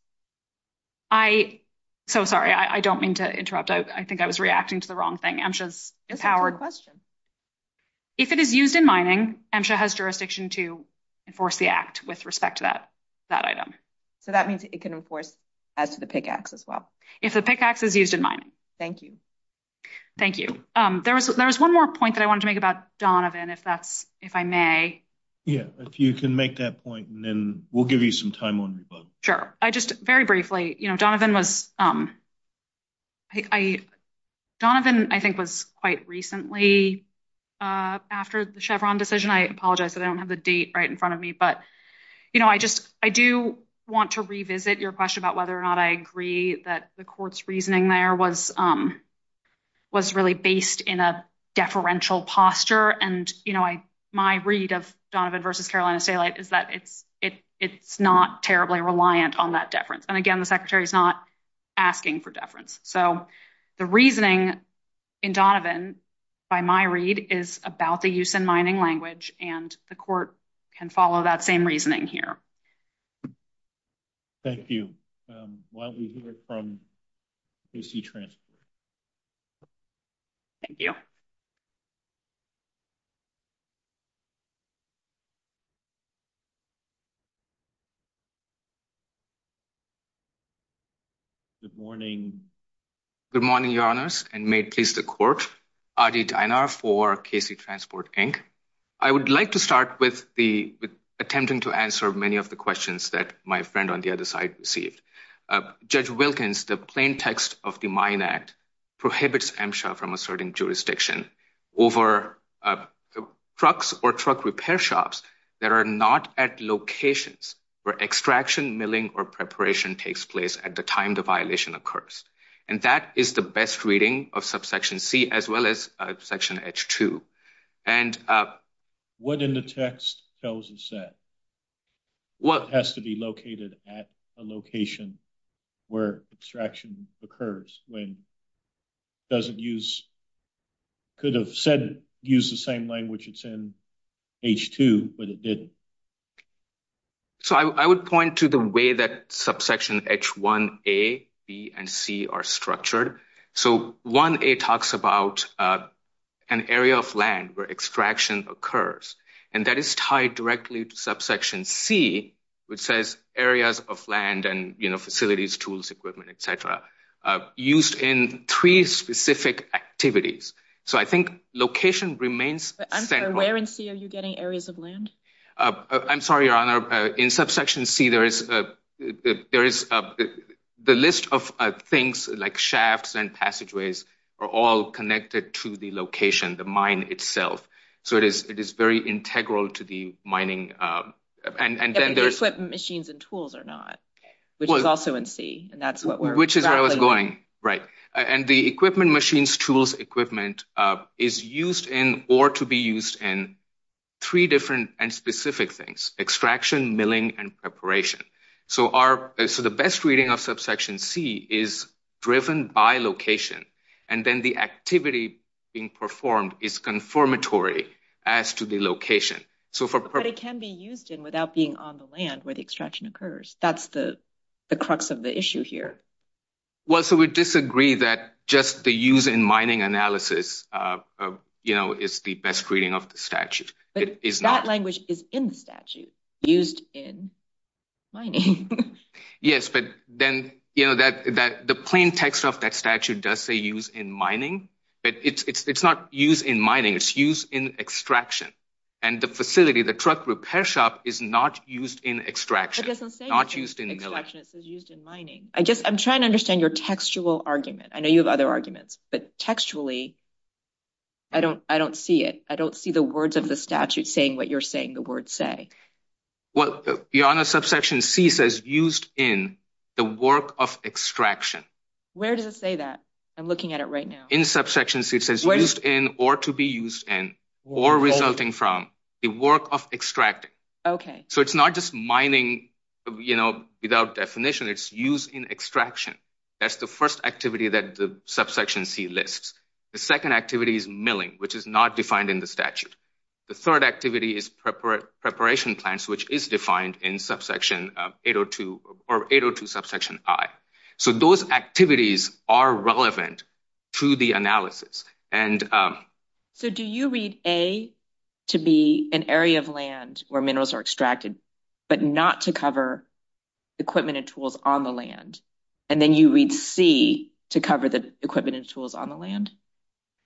I – So, sorry. I don't mean to interrupt. I think I was reacting to the wrong thing. MSHA's empowered – If it is used in mining, MSHA has jurisdiction to enforce the Act with respect to that item. So, that means it can, of course, add to the PIC Act as well. If the PIC Act is used in mining. Thank you. Thank you. There was one more point that I wanted to make about Donovan, if that's – if I may. Yeah. If you can make that point, and then we'll give you some time on your phone. Sure. I just – very briefly. You know, Donovan was – Donovan, I think, was quite recently after the Chevron decision. I apologize. I don't have the date right in front of me. But, you know, I just – I do want to revisit your question about whether or not I agree that the court's reasoning there was really based in a deferential posture. And, you know, my read of Donovan v. Carolina Stalight is that it's not terribly reliant on that deference. And, again, the Secretary's not asking for deference. So, the reasoning in Donovan, by my read, is about the use in mining language. And the court can follow that same reasoning here. Thank you. While we hear from AC Transfer. Thank you. Good morning. Good morning, Your Honors, and may it please the court. Adi Dainar for KC Transport, Inc. I would like to start with the – attempting to answer many of the questions that my friend on the other side received. Judge Wilkins, the plain text of the Mine Act, prohibits MSHA from asserting jurisdiction over trucks or truck repair shops that are not at locations where extraction, milling, or preparation takes place at the time the violation occurs. And that is the best reading of Subsection C as well as Section H2. What in the text tells us that? What? It has to be located at a location where extraction occurs, when it doesn't use – could have said – used the same language it's in H2, but it didn't. So, I would point to the way that Subsection H1a, b, and c are structured. So, 1a talks about an area of land where extraction occurs, and that is tied directly to Subsection C, which says areas of land and, you know, facilities, tools, equipment, etc., used in three specific activities. So, I think location remains – I'm sorry, where in C are you getting areas of land? I'm sorry, Your Honor. In Subsection C, there is – the list of things like shafts and passageways are all connected to the location, the mine itself. So, it is very integral to the mining. And equipment, machines, and tools are not, which is also in C. Which is where I was going, right. And the equipment, machines, tools, equipment is used in or to be used in three different and specific things – extraction, milling, and preparation. So, the best reading of Subsection C is driven by location, and then the activity being performed is confirmatory as to the location. But it can be used in without being on the land where the extraction occurs. That's the crux of the issue here. Well, so we disagree that just the use in mining analysis, you know, is the best reading of the statute. But that language is in the statute, used in mining. Yes, but then, you know, the plain text of that statute does say used in mining, but it's not used in mining, it's used in extraction. And the facility, the truck repair shop, is not used in extraction. It doesn't say used in extraction, it says used in mining. I'm trying to understand your textual argument. I know you have other arguments, but textually, I don't see it. I don't see the words of the statute saying what you're saying the words say. Well, beyond that, Subsection C says used in the work of extraction. Where does it say that? I'm looking at it right now. In Subsection C, it says used in or to be used in or resulting from the work of extracting. Okay. So it's not just mining, you know, without definition, it's used in extraction. That's the first activity that the Subsection C lists. The second activity is milling, which is not defined in the statute. The third activity is preparation plants, which is defined in Subsection 802 or 802 Subsection I. So those activities are relevant to the analysis. So do you read A to be an area of land where minerals are extracted, but not to cover equipment and tools on the land? And then you read C to cover the equipment and tools on the land?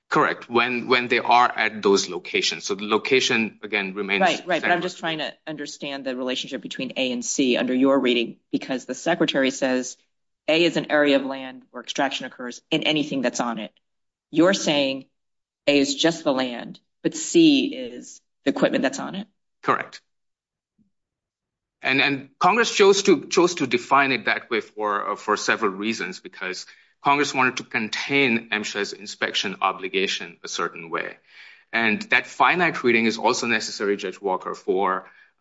Correct. When they are at those locations. So the location, again, remains... Right, right. I'm just trying to understand the relationship between A and C under your reading. Because the Secretary says A is an area of land where extraction occurs in anything that's on it. I'm saying A is just the land, but C is the equipment that's on it. Correct. And Congress chose to define it that way for several reasons, because Congress wanted to contain MSHA's inspection obligation a certain way. And that Fine Act reading is also necessary, Judge Walker,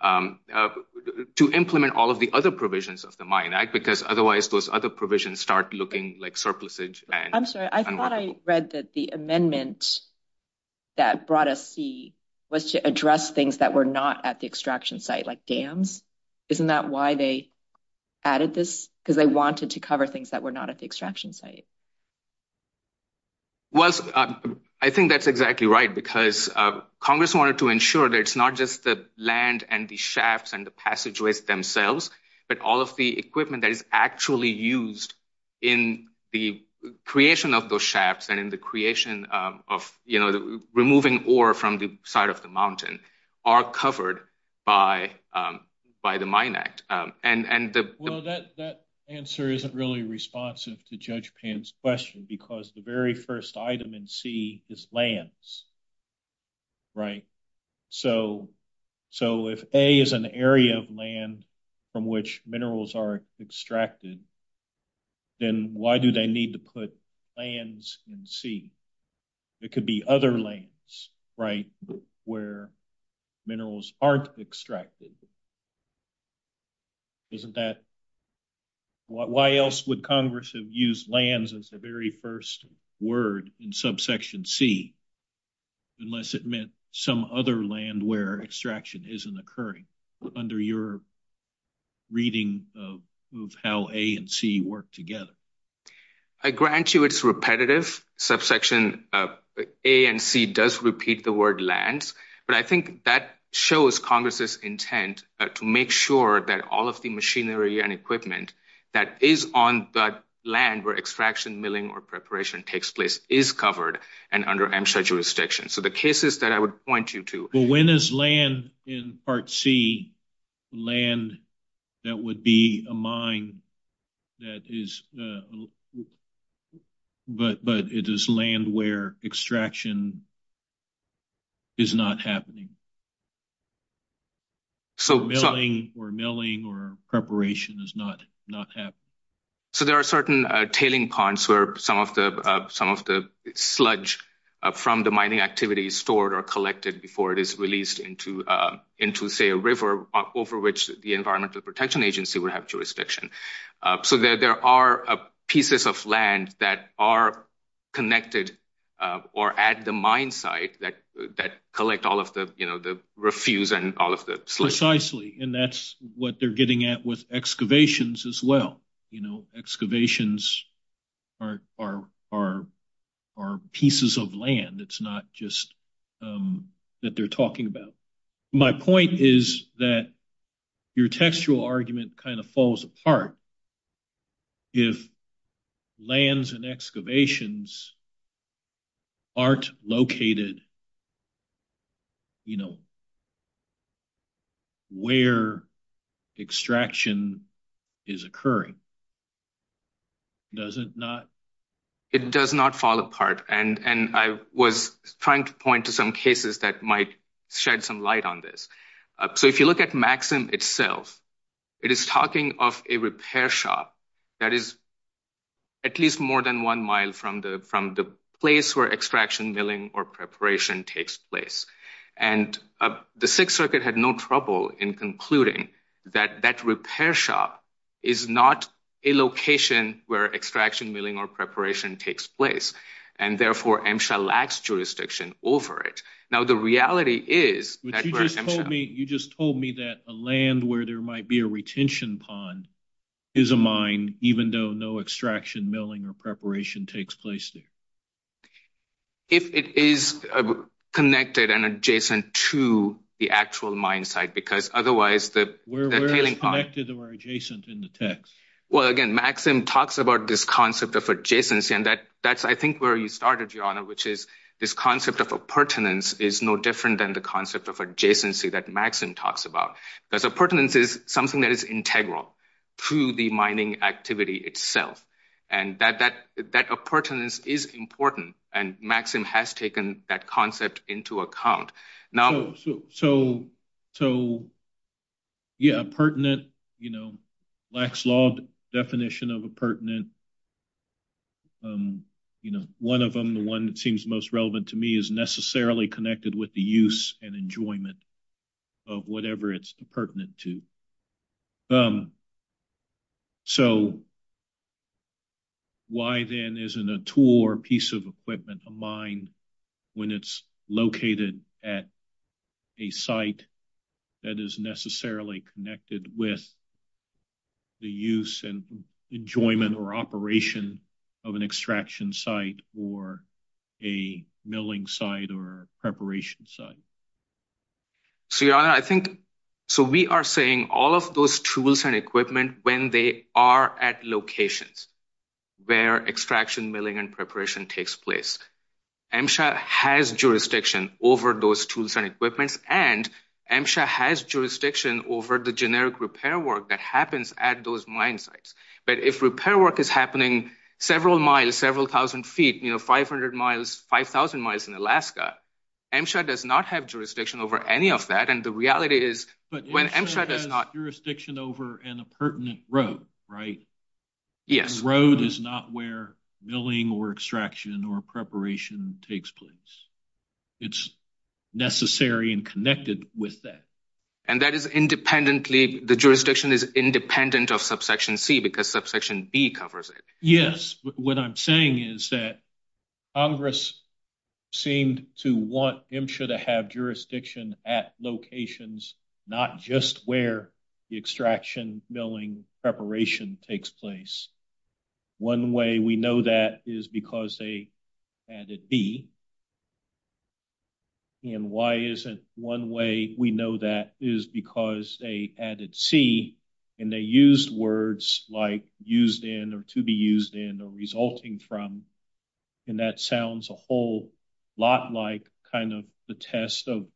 to implement all of the other provisions of the Mine Act, because otherwise those other provisions start looking like surplusage. I'm sorry. I thought I read that the amendment that brought us C was to address things that were not at the extraction site, like dams. Isn't that why they added this? Because they wanted to cover things that were not at the extraction site. Well, I think that's exactly right, because Congress wanted to ensure that it's not just the land and the shafts and the passageways themselves, but all of the equipment that is actually used in the creation of those shafts and in the creation of removing ore from the side of the mountain are covered by the Mine Act. Well, that answer isn't really responsive to Judge Pan's question, because the very first item in C is lands. Right. So if A is an area of land from which minerals are extracted, then why do they need to put lands in C? It could be other lands, right, where minerals aren't extracted. Why else would Congress have used lands as the very first word in subsection C, unless it meant some other land where extraction isn't occurring under your reading of how A and C work together? I grant you it's repetitive. Subsection A and C does repeat the word lands, but I think that shows Congress's intent to make sure that all of the machinery and equipment that is on that land where extraction, milling, or preparation takes place is covered and under MSHA jurisdiction. So the cases that I would point you to— But when is land in Part C land that would be a mine that is—but it is land where extraction is not happening? So— Or milling or preparation is not happening? So there are certain tailing ponds where some of the sludge from the mining activity is stored or collected before it is released into, say, a river over which the Environmental Protection Agency would have jurisdiction. So there are pieces of land that are connected or at the mine site that collect all of the refuse and all of the sludge. Precisely, and that's what they're getting at with excavations as well. Excavations are pieces of land. It's not just that they're talking about. My point is that your textual argument kind of falls apart if lands and excavations aren't located, you know, where extraction is occurring. Does it not? It does not fall apart, and I was trying to point to some cases that might shed some light on this. So if you look at Maxim itself, it is talking of a repair shop that is at least more than one mile from the place where extraction, milling, or preparation takes place. And the Sixth Circuit had no trouble in concluding that that repair shop is not a location where extraction, milling, or preparation takes place, and therefore MSHA lacks jurisdiction over it. Now the reality is… You just told me that a land where there might be a retention pond is a mine even though no extraction, milling, or preparation takes place there. If it is connected and adjacent to the actual mine site, because otherwise… Where is it connected or adjacent in the text? Well, again, Maxim talks about this concept of adjacency, and that's, I think, where you started, Your Honor, which is this concept of appurtenance is no different than the concept of adjacency that Maxim talks about. Appurtenance is something that is integral to the mining activity itself, and that appurtenance is important, and Maxim has taken that concept into account. So, yeah, appurtenant, you know, lacks law definition of appurtenant. You know, one of them, the one that seems most relevant to me, is necessarily connected with the use and enjoyment of whatever it's appurtenant to. So, why then isn't a tool or piece of equipment a mine when it's located at a site that is necessarily connected with the use and enjoyment or operation of an extraction site or a milling site or a preparation site? So, Your Honor, I think… So, we are saying all of those tools and equipment when they are at locations where extraction, milling, and preparation takes place. MSHA has jurisdiction over those tools and equipment, and MSHA has jurisdiction over the generic repair work that happens at those mine sites. But if repair work is happening several miles, several thousand feet, you know, 500 miles, 5,000 miles in Alaska, MSHA does not have jurisdiction over any of that, and the reality is… But MSHA has jurisdiction over an appurtenant road, right? Yes. The road is not where milling or extraction or preparation takes place. It's necessary and connected with that. And that is independently—the jurisdiction is independent of subsection C because subsection B covers it? Yes. What I'm saying is that Congress seemed to want MSHA to have jurisdiction at locations, not just where the extraction, milling, preparation takes place. One way we know that is because they added B. And why is it one way we know that is because they added C, and they used words like used in or to be used in or resulting from, and that sounds a whole lot like kind of the test of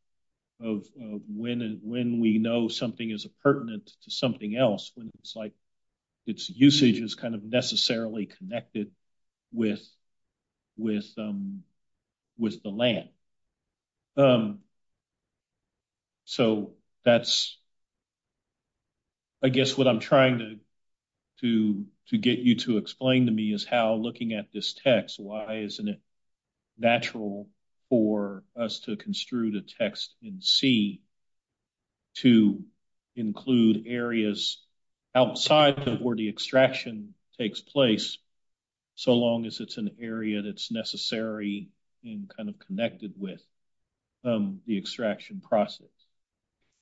when we know something is appurtenant to something else. It's like its usage is kind of necessarily connected with the land. So, that's—I guess what I'm trying to get you to explain to me is how looking at this text, why isn't it natural for us to construe the text in C to include areas outside of where the extraction takes place, so long as it's an area that's necessary and kind of connected with the extraction process?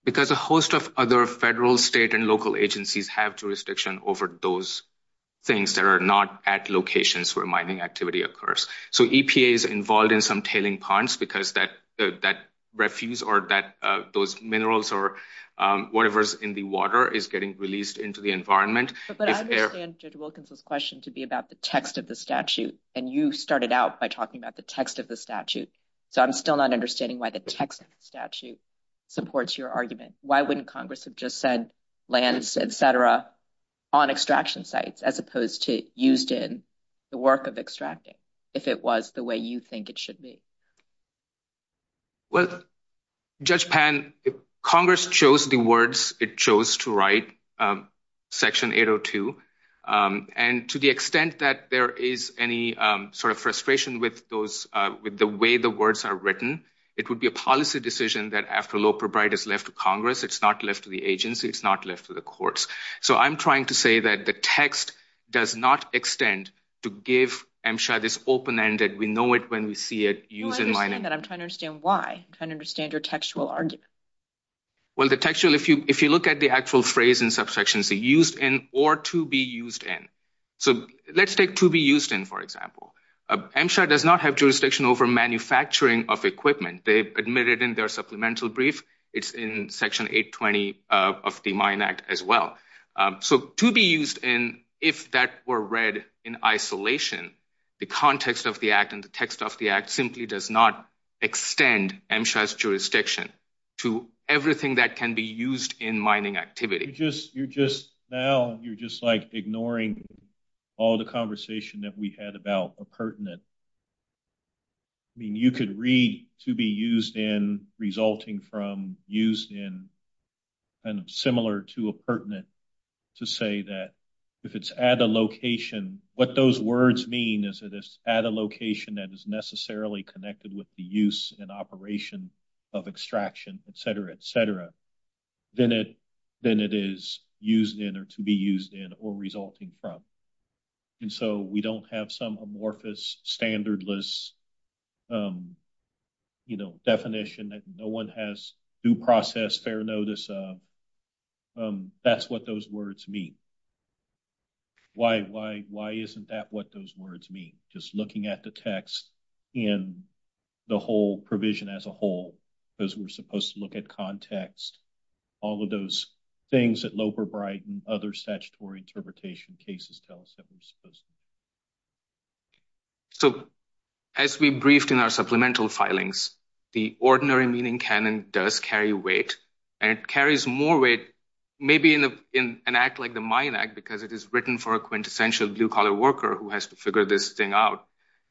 Because a host of other federal, state, and local agencies have jurisdiction over those things that are not at locations where mining activity occurs. So, EPA is involved in some tailing ponds because that refuse or those minerals or whatever is in the water is getting released into the environment. But I understand Judge Wilkinson's question to be about the text of the statute, and you started out by talking about the text of the statute. So, I'm still not understanding why the text of the statute supports your argument. Why wouldn't Congress have just said lands, et cetera, on extraction sites as opposed to used in the work of extracting if it was the way you think it should be? Well, Judge Pan, Congress chose the words it chose to write, Section 802, and to the extent that there is any sort of frustration with those—with the way the words are written, it would be a policy decision that after a law proprietor is left to Congress, it's not left to the agency, it's not left to the courts. So, I'm trying to say that the text does not extend to give MSHA this open-ended, we-know-it-when-we-see-it use in mining. Well, I don't understand that. I'm trying to understand why. I'm trying to understand your textual argument. Well, the textual—if you look at the actual phrase in subsections, the used in or to be used in. So, let's take to be used in, for example. MSHA does not have jurisdiction over manufacturing of equipment. They've admitted in their supplemental brief, it's in Section 820 of the Mine Act as well. So, to be used in, if that were read in isolation, the context of the act and the text of the act simply does not extend MSHA's jurisdiction to everything that can be used in mining activity. Now, you're just like ignoring all the conversation that we had about a pertinent. I mean, you could read to be used in, resulting from, used in, and similar to a pertinent to say that if it's at a location, what those words mean is that it's at a location that is necessarily connected with the use and operation of extraction, et cetera, et cetera, than it is used in or to be used in or resulting from. And so, we don't have some amorphous, standardless, you know, definition that no one has due process, fair notice of. That's what those words mean. Why isn't that what those words mean? Just looking at the text in the whole provision as a whole, because we're supposed to look at context, all of those things that Loeber, Bright, and other statutory interpretation cases tell us that we're supposed to. So, as we briefed in our supplemental filings, the ordinary meaning canon does carry weight, and it carries more weight maybe in an act like the Mine Act because it is written for a quintessential blue-collar worker who has to figure this thing out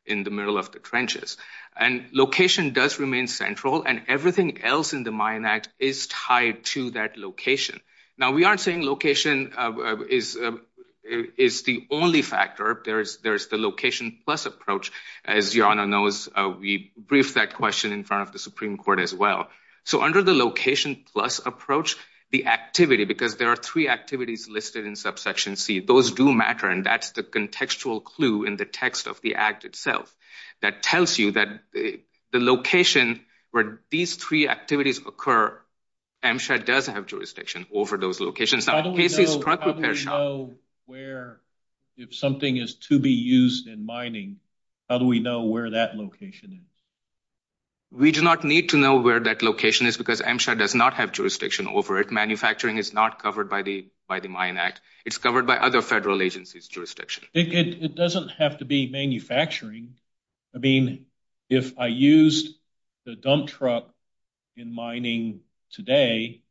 in the middle of the trenches. And location does remain central, and everything else in the Mine Act is tied to that location. Now, we aren't saying location is the only factor. There's the location plus approach. As your Honor knows, we briefed that question in front of the Supreme Court as well. So, under the location plus approach, the activity, because there are three activities listed in subsection C, those do matter, and that's the contextual clue in the text of the act itself that tells you that the location where these three activities occur, MSHA does have jurisdiction over those locations. How do we know where, if something is to be used in mining, how do we know where that location is? We do not need to know where that location is because MSHA does not have jurisdiction over it. Manufacturing is not covered by the Mine Act. It's covered by other federal agencies' jurisdiction. It doesn't have to be manufacturing. I mean, if I used the dump truck in mining today,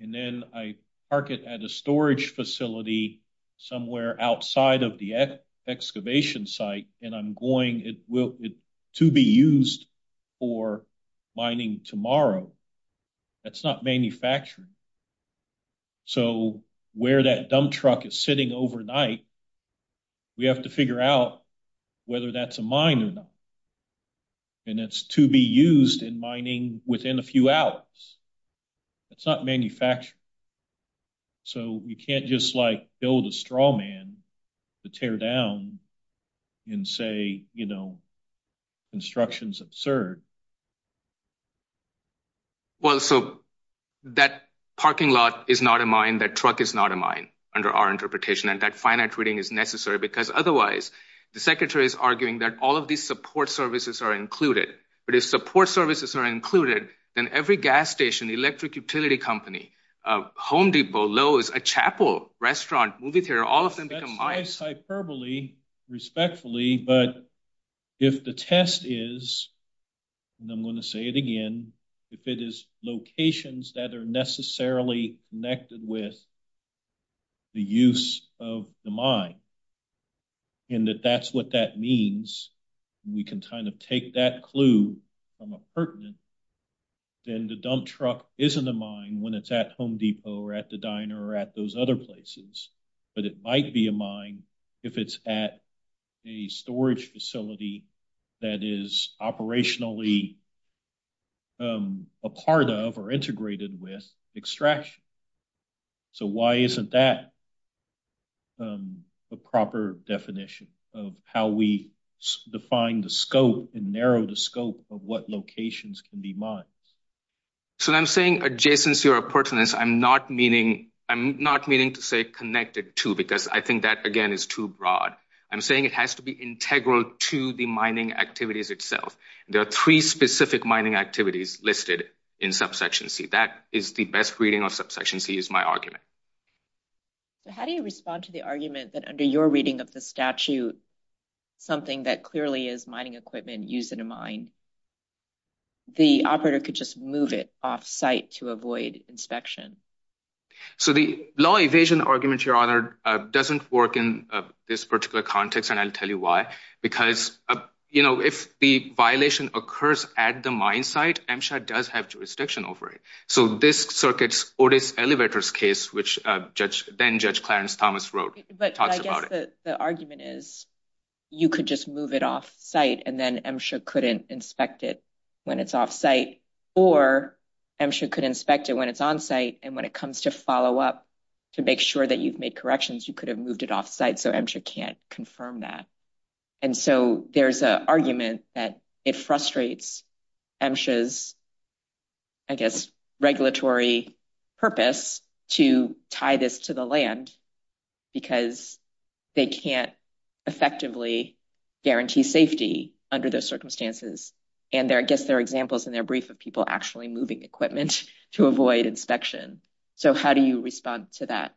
and then I park it at a storage facility somewhere outside of the excavation site, and I'm going, it will be used for mining tomorrow. That's not manufacturing. So, where that dump truck is sitting overnight, we have to figure out whether that's a mine or not. And it's to be used in mining within a few hours. It's not manufacturing. So, you can't just, like, build a straw man to tear down and say, you know, construction is absurd. Well, so, that parking lot is not a mine, that truck is not a mine, under our interpretation. And that finite reading is necessary because otherwise, the Secretary is arguing that all of these support services are included. But if support services are included, then every gas station, electric utility company, home depot, Lowe's, a chapel, restaurant, movie theater, all of them become mines. I say this hyperbole respectfully, but if the test is, and I'm going to say it again, if it is locations that are necessarily connected with the use of the mine, and that that's what that means, and we can kind of take that clue from a pertinent, then the dump truck isn't a mine when it's at Home Depot or at the diner or at those other places. But it might be a mine if it's at a storage facility that is operationally a part of or integrated with extraction. So, why isn't that a proper definition of how we define the scope and narrow the scope of what locations can be mines? So, I'm saying adjacency or pertinence, I'm not meaning to say connected to because I think that again is too broad. I'm saying it has to be integral to the mining activities itself. There are three specific mining activities listed in subsection C. That is the best reading of subsection C is my argument. How do you respond to the argument that under your reading of the statute, something that clearly is mining equipment used in a mine, the operator could just move it off site to avoid inspection? So, the law evasion argument, Your Honor, doesn't work in this particular context, and I'll tell you why. Because, you know, if the violation occurs at the mine site, MSHA does have jurisdiction over it. So, this circuit's Otis Elevators case, which then Judge Clarence Thomas wrote, talked about it. The argument is you could just move it off site and then MSHA couldn't inspect it when it's off site, or MSHA could inspect it when it's on site. And when it comes to follow up to make sure that you've made corrections, you could have moved it off site. So, MSHA can't confirm that. And so, there's an argument that it frustrates MSHA's, I guess, regulatory purpose to tie this to the land because they can't effectively guarantee safety under those circumstances. And I guess there are examples in their brief of people actually moving equipment to avoid inspection. So, how do you respond to that?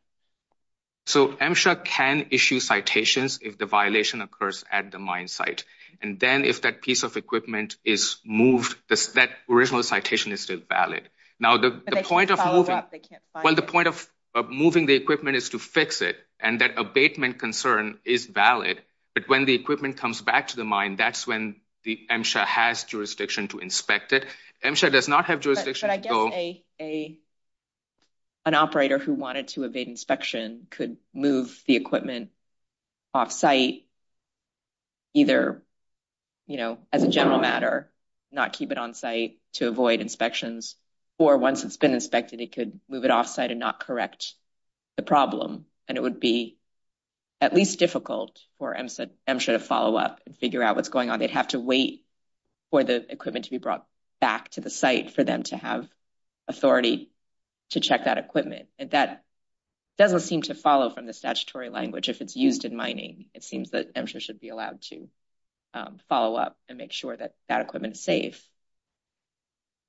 So, MSHA can issue citations if the violation occurs at the mine site. And then, if that piece of equipment is moved, that original citation is still valid. Now, the point of moving the equipment is to fix it, and that abatement concern is valid. But when the equipment comes back to the mine, that's when MSHA has jurisdiction to inspect it. MSHA does not have jurisdiction. But I guess an operator who wanted to avoid inspection could move the equipment off site, either, you know, as a general matter, not keep it on site to avoid inspections. Or once it's been inspected, it could move it off site and not correct the problem. And it would be at least difficult for MSHA to follow up and figure out what's going on. They'd have to wait for the equipment to be brought back to the site for them to have authority to check that equipment. And that doesn't seem to follow from the statutory language. If it's used in mining, it seems that MSHA should be allowed to follow up and make sure that that equipment is safe.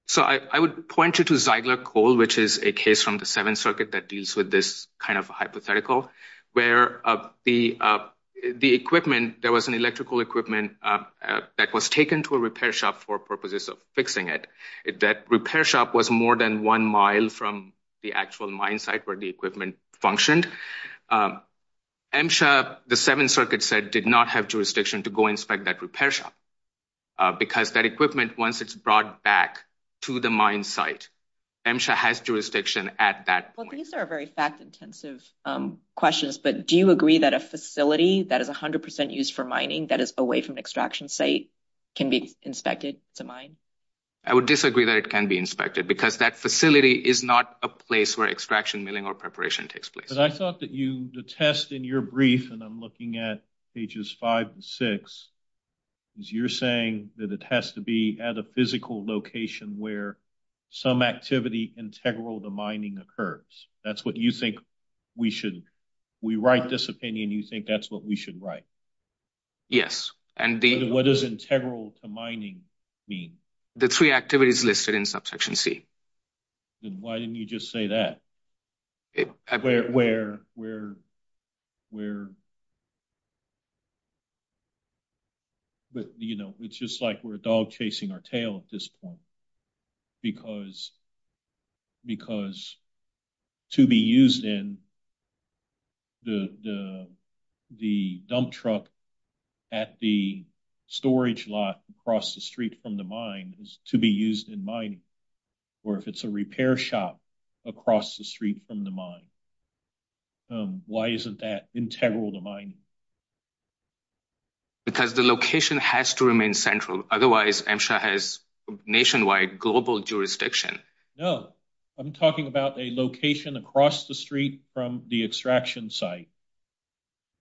So, I would point you to Zeigler Coal, which is a case from the Seventh Circuit that deals with this kind of hypothetical, where the equipment, there was an electrical equipment that was taken to a repair shop for purposes of fixing it. That repair shop was more than one mile from the actual mine site where the equipment functioned. MSHA, the Seventh Circuit said, did not have jurisdiction to go inspect that repair shop. Because that equipment, once it's brought back to the mine site, MSHA has jurisdiction at that point. These are very fact-intensive questions, but do you agree that a facility that is 100% used for mining, that is away from an extraction site, can be inspected to mine? I would disagree that it can be inspected, because that facility is not a place where extraction milling or preparation takes place. But I thought that the test in your brief, and I'm looking at pages 5 and 6, is you're saying that it has to be at a physical location where some activity integral to mining occurs. That's what you think we should, we write this opinion, you think that's what we should write? Yes. What does integral to mining mean? The three activities listed in subsection C. Why didn't you just say that? It's just like we're a dog chasing our tail at this point. Because to be used in the dump truck at the storage lot across the street from the mine is to be used in mining. Or if it's a repair shop across the street from the mine. Why isn't that integral to mining? Because the location has to remain central. Otherwise, MSHA has nationwide, global jurisdiction. No, I'm talking about a location across the street from the extraction site,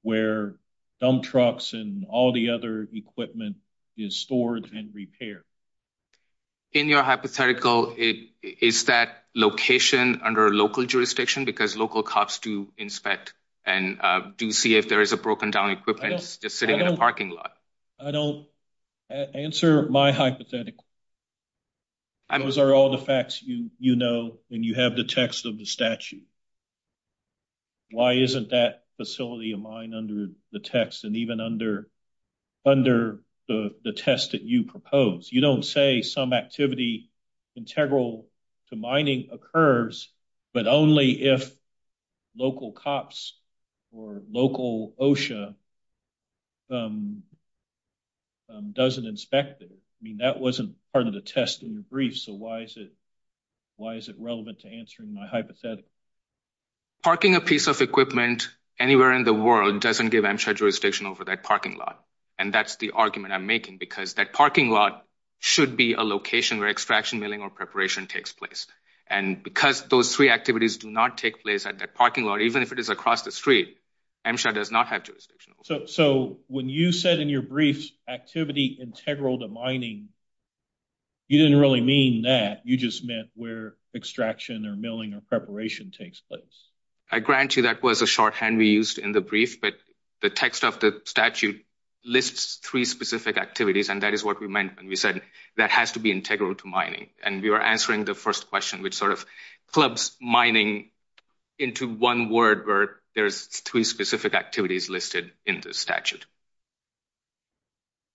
where dump trucks and all the other equipment is stored and repaired. In your hypothetical, is that location under local jurisdiction? Because local cops do inspect and do see if there is a broken down equipment just sitting in a parking lot. I don't answer my hypothetical. Those are all the facts you know, and you have the text of the statute. Why isn't that facility of mine under the text and even under the test that you propose? You don't say some activity integral to mining occurs, but only if local cops or local OSHA doesn't inspect it. I mean, that wasn't part of the test in the brief, so why is it relevant to answering my hypothetical? Parking a piece of equipment anywhere in the world doesn't give MSHA jurisdiction over that parking lot. And that's the argument I'm making, because that parking lot should be a location where extraction, milling, or preparation takes place. And because those three activities do not take place at that parking lot, even if it is across the street, MSHA does not have jurisdiction. So when you said in your brief, activity integral to mining, you didn't really mean that. You just meant where extraction or milling or preparation takes place. I grant you that was a shorthand we used in the brief, but the text of the statute lists three specific activities, and that is what we meant when we said that has to be integral to mining. And we were answering the first question, which sort of clubs mining into one word where there's three specific activities listed in the statute.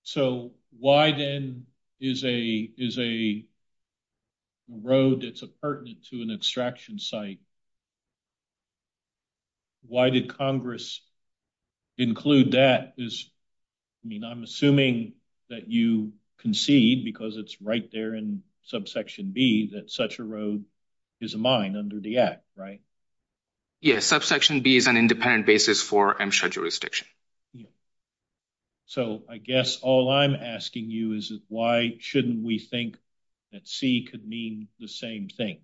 So why, then, is a road that's pertinent to an extraction site, why did Congress include that? I mean, I'm assuming that you concede, because it's right there in subsection B, that such a road is a mine under the Act, right? Yes, subsection B is an independent basis for MSHA jurisdiction. So I guess all I'm asking you is why shouldn't we think that C could mean the same thing,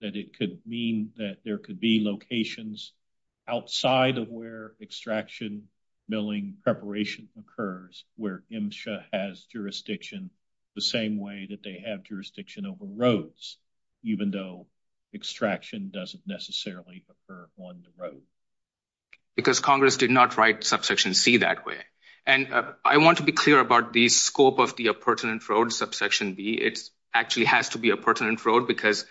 that it could mean that there could be locations outside of where extraction, milling, preparation occurs, where MSHA has jurisdiction the same way that they have jurisdiction over roads, even though extraction doesn't necessarily occur on the road? Because Congress did not write subsection C that way. And I want to be clear about the scope of the pertinent road, subsection B. It actually has to be a pertinent road, because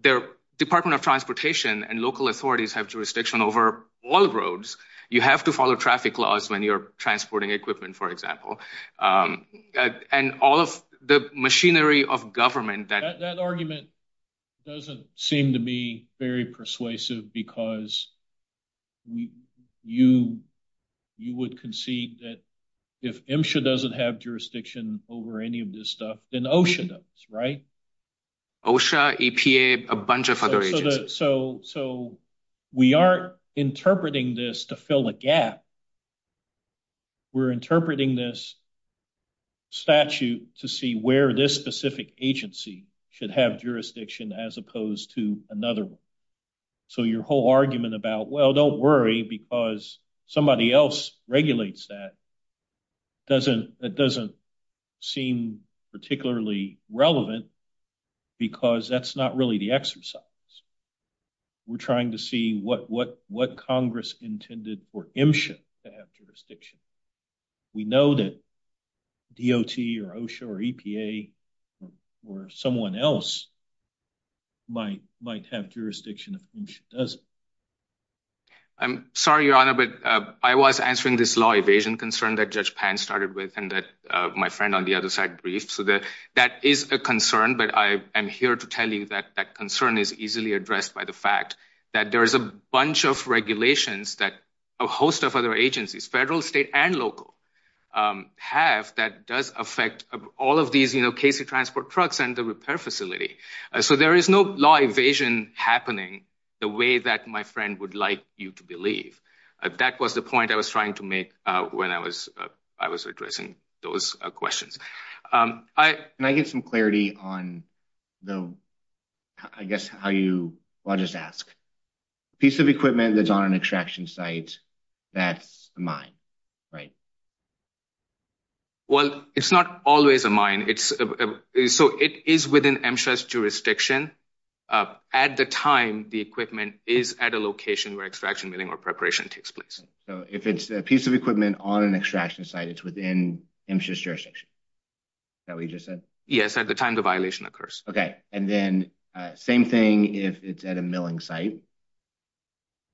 the Department of Transportation and local authorities have jurisdiction over all roads. You have to follow traffic laws when you're transporting equipment, for example. And all of the machinery of government that— That argument doesn't seem to me very persuasive, because you would concede that if MSHA doesn't have jurisdiction over any of this stuff, then OSHA does, right? OSHA, EPA, a bunch of other agencies. So we aren't interpreting this to fill a gap. We're interpreting this statute to see where this specific agency should have jurisdiction as opposed to another one. So your whole argument about, well, don't worry, because somebody else regulates that doesn't seem particularly relevant, because that's not really the exercise. We're trying to see what Congress intended for MSHA to have jurisdiction. We know that DOT or OSHA or EPA or someone else might have jurisdiction if MSHA doesn't. I'm sorry, Your Honor, but I was answering this law evasion concern that Judge Pan started with and that my friend on the other side briefed. So that is a concern, but I am here to tell you that that concern is easily addressed by the fact that there is a bunch of regulations that a host of other agencies, federal, state, and local, have that does affect all of these case-in-transport trucks and the repair facility. So there is no law evasion happening the way that my friend would like you to believe. That was the point I was trying to make when I was addressing those questions. Can I get some clarity on, I guess, how you – well, I'll just ask. A piece of equipment that's on an extraction site, that's a mine, right? Well, it's not always a mine. So it is within MSHA's jurisdiction. At the time, the equipment is at a location where extraction milling or preparation takes place. So if it's a piece of equipment on an extraction site, it's within MSHA's jurisdiction. Is that what you just said? Yes, at the time the violation occurs. Okay, and then same thing if it's at a milling site,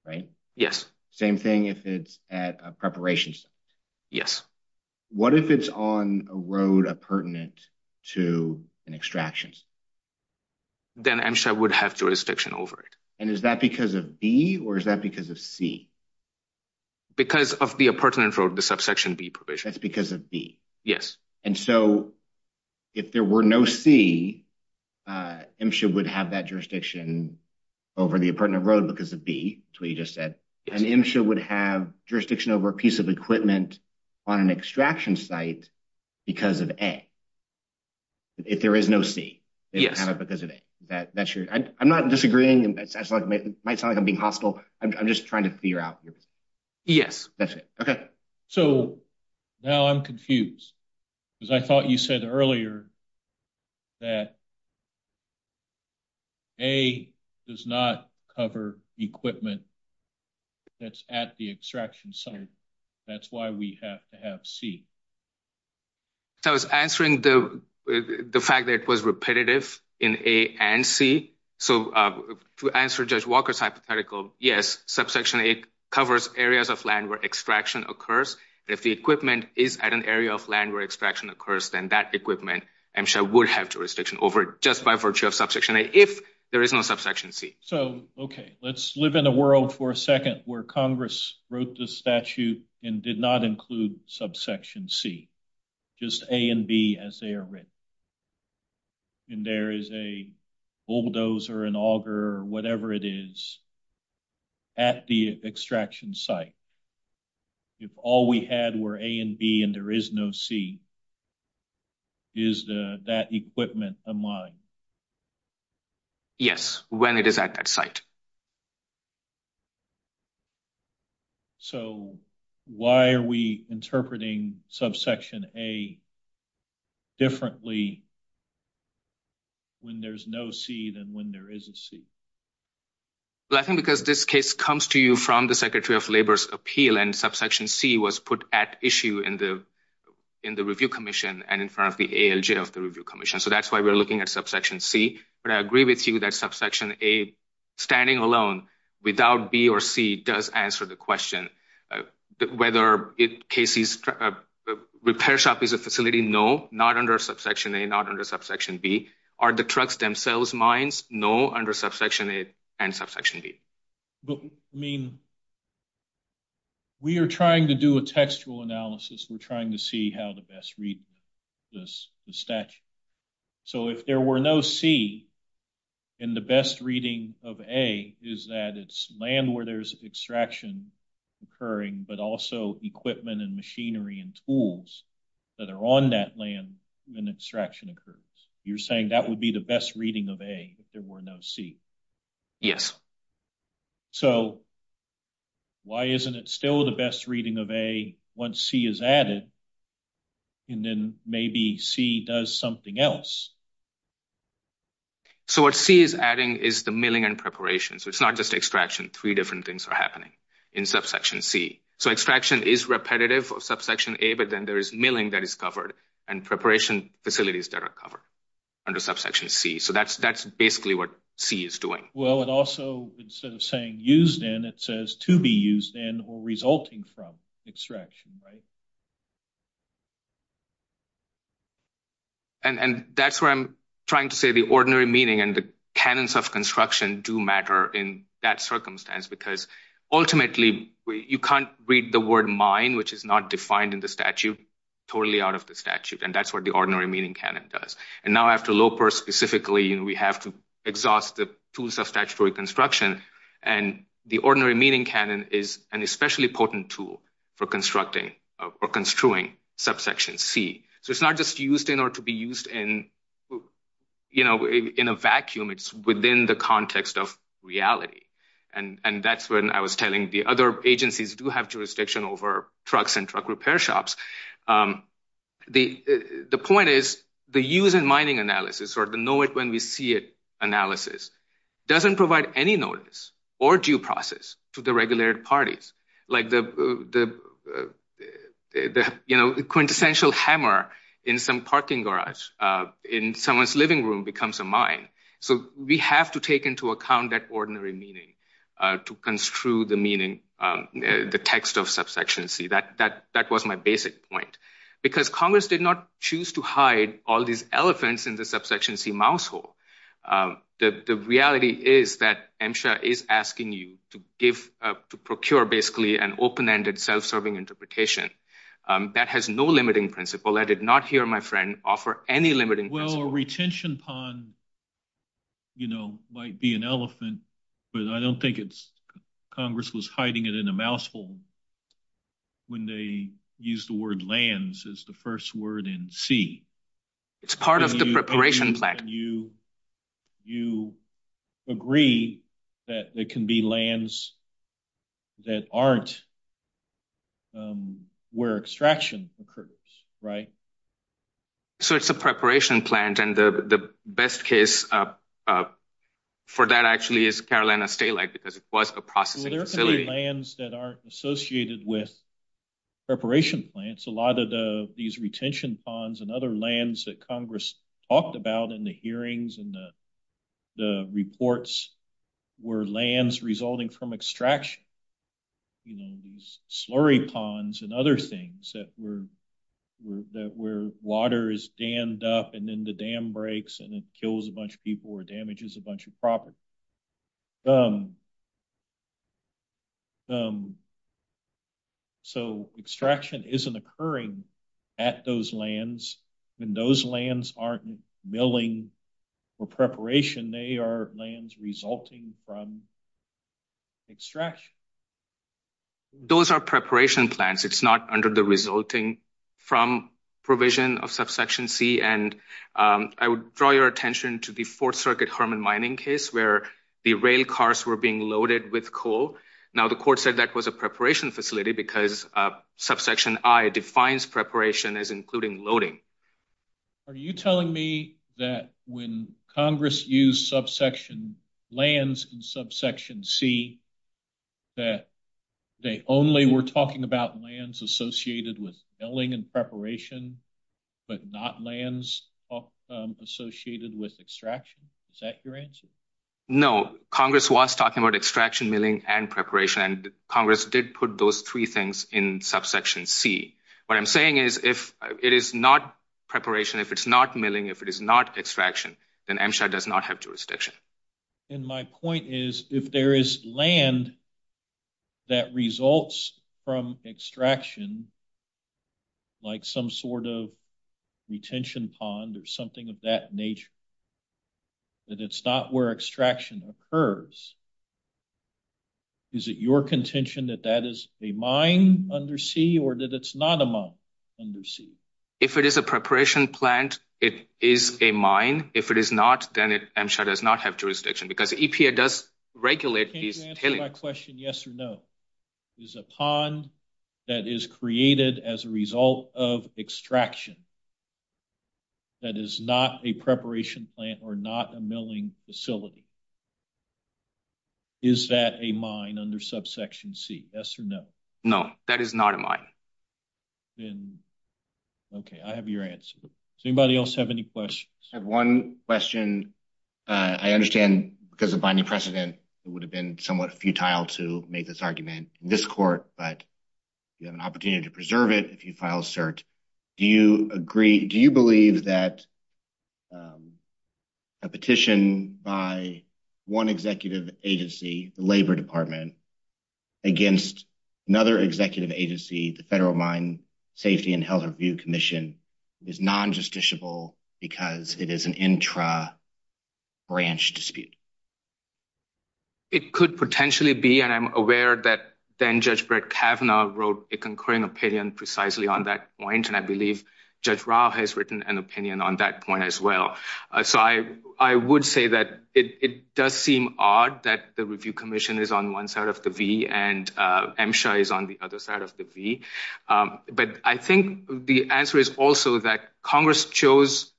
right? Yes. Same thing if it's at a preparation site. Yes. What if it's on a road pertinent to an extraction site? Then MSHA would have jurisdiction over it. And is that because of B or is that because of C? Because of the pertinent road, the subsection B provision. That's because of B. Yes. And so if there were no C, MSHA would have that jurisdiction over the pertinent road because of B. That's what you just said. And MSHA would have jurisdiction over a piece of equipment on an extraction site because of A. If there is no C, they would have it because of A. I'm not disagreeing. It might sound like I'm being hostile. I'm just trying to figure out. Yes, that's it. Okay. So now I'm confused because I thought you said earlier that A does not cover equipment that's at the extraction site. That's why we have to have C. I was answering the fact that it was repetitive in A and C. So to answer Judge Walker's hypothetical, yes, subsection A covers areas of land where extraction occurs. If the equipment is at an area of land where extraction occurs, then that equipment, MSHA would have jurisdiction over it just by virtue of subsection A if there is no subsection C. So, okay, let's live in a world for a second where Congress wrote the statute and did not include subsection C. Just A and B as they are written. And there is a bulldozer, an auger, or whatever it is at the extraction site. If all we had were A and B and there is no C, is that equipment a mine? Yes, when it is at that site. So why are we interpreting subsection A differently when there is no C than when there is a C? Well, I think because this case comes to you from the Secretary of Labor's appeal and subsection C was put at issue in the review commission and in front of the ALJ of the review commission. So that's why we're looking at subsection C. But I agree with you that subsection A, standing alone without B or C, does answer the question. Whether KC's repair shop is a facility, no, not under subsection A, not under subsection B. Are the trucks themselves mines? No, under subsection A and subsection B. But, I mean, we are trying to do a textual analysis. We're trying to see how to best read the statute. So if there were no C, and the best reading of A is that it's land where there's extraction occurring, but also equipment and machinery and tools that are on that land when extraction occurs. You're saying that would be the best reading of A if there were no C? Yes. So why isn't it still the best reading of A once C is added? And then maybe C does something else. So what C is adding is the milling and preparation. So it's not just extraction. Three different things are happening in subsection C. So extraction is repetitive for subsection A, but then there is milling that is covered and preparation facilities that are covered under subsection C. So that's basically what C is doing. Well, it also, instead of saying used in, it says to be used in or resulting from extraction, right? And that's where I'm trying to say the ordinary meaning and the canons of construction do matter in that circumstance. Because ultimately, you can't read the word mine, which is not defined in the statute, totally out of the statute. And that's what the ordinary meaning canon does. And now after Loper specifically, we have to exhaust the tools of statutory construction. And the ordinary meaning canon is an especially potent tool for constructing or construing subsection C. So it's not just used in or to be used in a vacuum. It's within the context of reality. And that's when I was telling the other agencies do have jurisdiction over trucks and truck repair shops. The point is the use in mining analysis or the know it when we see it analysis doesn't provide any notice or due process to the regulated parties. Like the quintessential hammer in some parking garage in someone's living room becomes a mine. So we have to take into account that ordinary meaning to construe the meaning, the text of subsection C. That was my basic point. Because Congress did not choose to hide all these elephants in the subsection C mousehole. The reality is that MSHA is asking you to procure basically an open-ended self-serving interpretation. That has no limiting principle. I did not hear my friend offer any limiting principle. Well, a retention pond might be an elephant, but I don't think Congress was hiding it in a mousehole when they used the word lands as the first word in C. It's part of the preparation plan. You agree that there can be lands that aren't where extraction occurs, right? So it's a preparation plant and the best case for that actually is Carolina State because it was a processing facility. There can be lands that aren't associated with preparation plants. A lot of these retention ponds and other lands that Congress talked about in the hearings and the reports were lands resulting from extraction. These slurry ponds and other things where water is dammed up and then the dam breaks and it kills a bunch of people or damages a bunch of property. So extraction isn't occurring at those lands. When those lands aren't milling for preparation, they are lands resulting from extraction. Those are preparation plants. It's not under the resulting from provision of subsection C. I would draw your attention to the Fourth Circuit Hermann mining case where the rail cars were being loaded with coal. Now the court said that was a preparation facility because subsection I defines preparation as including loading. Are you telling me that when Congress used subsection lands and subsection C that they only were talking about lands associated with milling and preparation but not lands associated with extraction? Is that your answer? No. Congress was talking about extraction, milling, and preparation. Congress did put those three things in subsection C. What I'm saying is if it is not preparation, if it's not milling, if it is not extraction, then MSHA does not have jurisdiction. My point is if there is land that results from extraction, like some sort of retention pond or something of that nature, that it's not where extraction occurs, is it your contention that that is a mine under C or that it's not a mine under C? If it is a preparation plant, it is a mine. If it is not, then MSHA does not have jurisdiction because EPA does regulate these. Can you answer my question yes or no? Is a pond that is created as a result of extraction that is not a preparation plant or not a milling facility, is that a mine under subsection C? Yes or no? No, that is not a mine. Okay, I have your answer. Does anybody else have any questions? I just have one question. I understand because of budget precedent, it would have been somewhat futile to make this argument in this court, but you have an opportunity to preserve it if you file a cert. Do you believe that a petition by one executive agency, the Labor Department, against another executive agency, the Federal Mine Safety and Health Review Commission, is non-justiciable because it is an intra-branch dispute? It could potentially be, and I'm aware that then Judge Brett Kavanaugh wrote a concurring opinion precisely on that point, and I believe Judge Rao has written an opinion on that point as well. So I would say that it does seem odd that the review commission is on one side of the V and MSHA is on the other side of the V. But I think the answer is also that Congress chose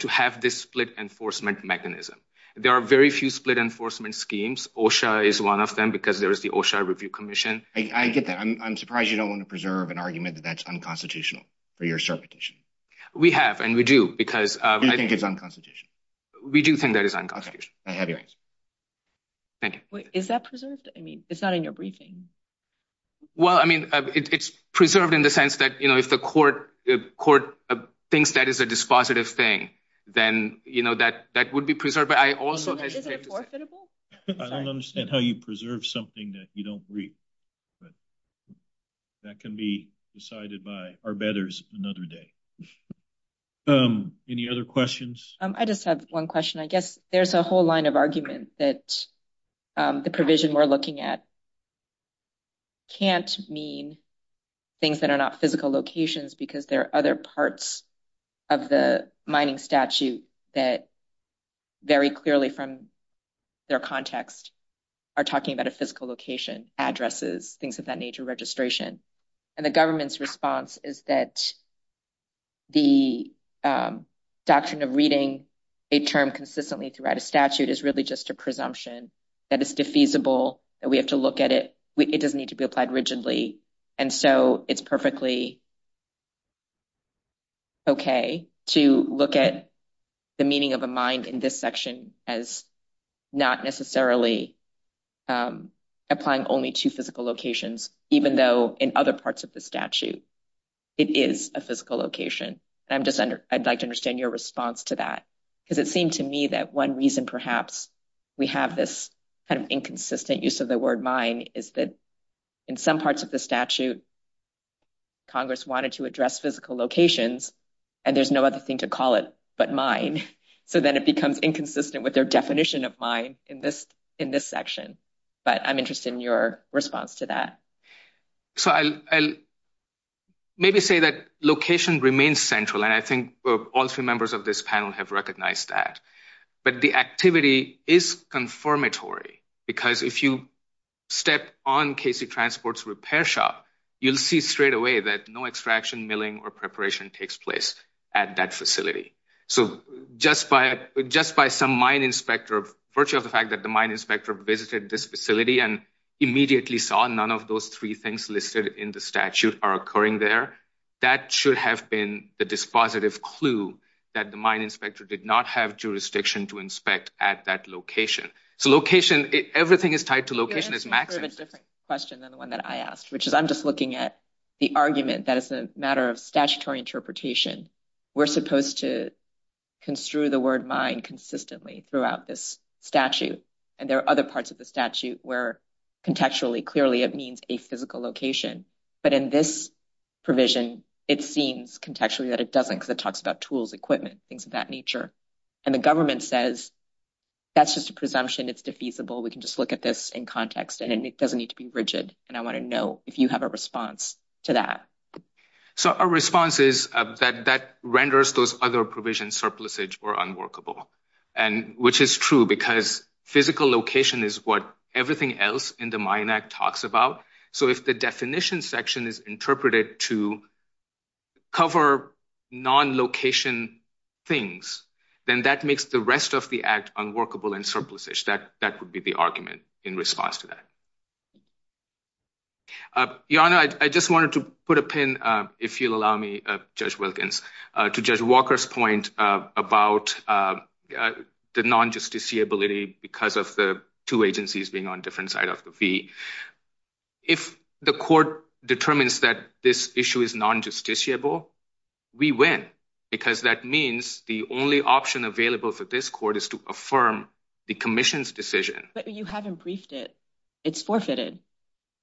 to have this split enforcement mechanism. There are very few split enforcement schemes. OSHA is one of them because there is the OSHA Review Commission. I get that. I'm surprised you don't want to preserve an argument that that's unconstitutional for your cert petition. We have, and we do. You think it's unconstitutional? We do think that it's unconstitutional. Okay, I have your answer. Thank you. Is that present? I mean, it's not in your briefing. Well, I mean, it's preserved in the sense that, you know, if the court thinks that is a dispositive thing, then, you know, that would be preserved. I don't understand how you preserve something that you don't agree. That can be decided by our betters another day. Any other questions? I just have one question. I guess there's a whole line of argument that the provision we're looking at can't mean things that are not physical locations because there are other parts of the mining statute that very clearly from their context are talking about a physical location, addresses, things of that nature, registration. And the government's response is that the doctrine of reading a term consistently throughout a statute is really just a presumption that it's defeasible. And we have to look at it. It doesn't need to be applied rigidly. And so it's perfectly okay to look at the meaning of a mind in this section as not necessarily applying only to physical locations, even though in other parts of the statute, it is a physical location. I'd like to understand your response to that, because it seems to me that one reason perhaps we have this kind of inconsistent use of the word mine is that in some parts of the statute, Congress wanted to address physical locations, and there's no other thing to call it but mine. So then it becomes inconsistent with their definition of mine in this section. But I'm interested in your response to that. So I'll maybe say that location remains central, and I think all three members of this panel have recognized that. But the activity is confirmatory, because if you step on Casey Transport's repair shop, you'll see straight away that no extraction, milling, or preparation takes place at that facility. So just by some mine inspector, virtue of the fact that the mine inspector visited this facility and immediately saw none of those three things listed in the statute are occurring there, that should have been the dispositive clue that the mine inspector did not have jurisdiction to inspect at that location. So location, everything is tied to location. This is a different question than the one that I asked, which is I'm just looking at the argument that it's a matter of statutory interpretation. We're supposed to construe the word mine consistently throughout this statute, and there are other parts of the statute where contextually, clearly, it means a physical location. But in this provision, it seems contextually that it doesn't, because it talks about tools, equipment, things of that nature. And the government says, that's just a presumption, it's defeasible, we can just look at this in context, and it doesn't need to be rigid. And I want to know if you have a response to that. So our response is that that renders those other provisions surplusage or unworkable, which is true, because physical location is what everything else in the Mine Act talks about. So if the definition section is interpreted to cover non-location things, then that makes the rest of the act unworkable and surplusage. That would be the argument in response to that. Your Honor, I just wanted to put a pin, if you'll allow me, Judge Wilkins, to Judge Walker's point about the non-justiciability because of the two agencies being on different side of the fee. If the court determines that this issue is non-justiciable, we win, because that means the only option available for this court is to affirm the commission's decision. But you haven't briefed it. It's forfeited.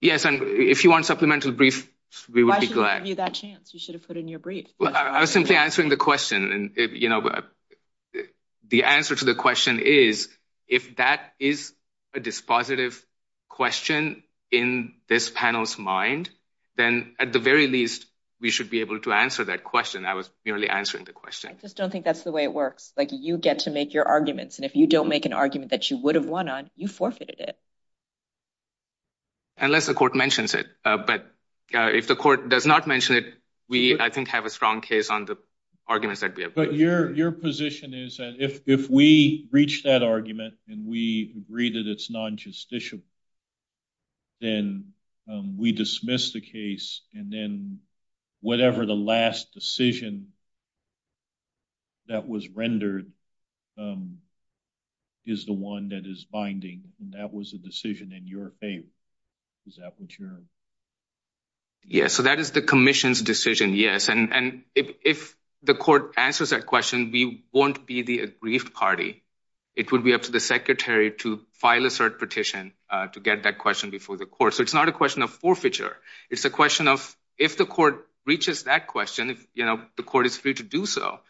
Yes, and if you want supplemental briefs, we would be glad. Why should we give you that chance? You should have put in your brief. I was simply answering the question, and the answer to the question is, if that is a dispositive question in this panel's mind, then at the very least, we should be able to answer that question. I was merely answering the question. I just don't think that's the way it works. You get to make your arguments, and if you don't make an argument that you would have won on, you forfeited it. Unless the court mentions it, but if the court does not mention it, we, I think, have a strong case on the arguments that we have made. Your position is that if we reach that argument, and we agree that it's non-justiciable, then we dismiss the case, and then whatever the last decision that was rendered is the one that is binding. That was a decision in your favor. Is that what you're— Yes, so that is the commission's decision, yes, and if the court answers that question, we won't be the aggrieved party. It would be up to the secretary to file a cert petition to get that question before the court, so it's not a question of forfeiture. It's a question of if the court reaches that question, the court is free to do so,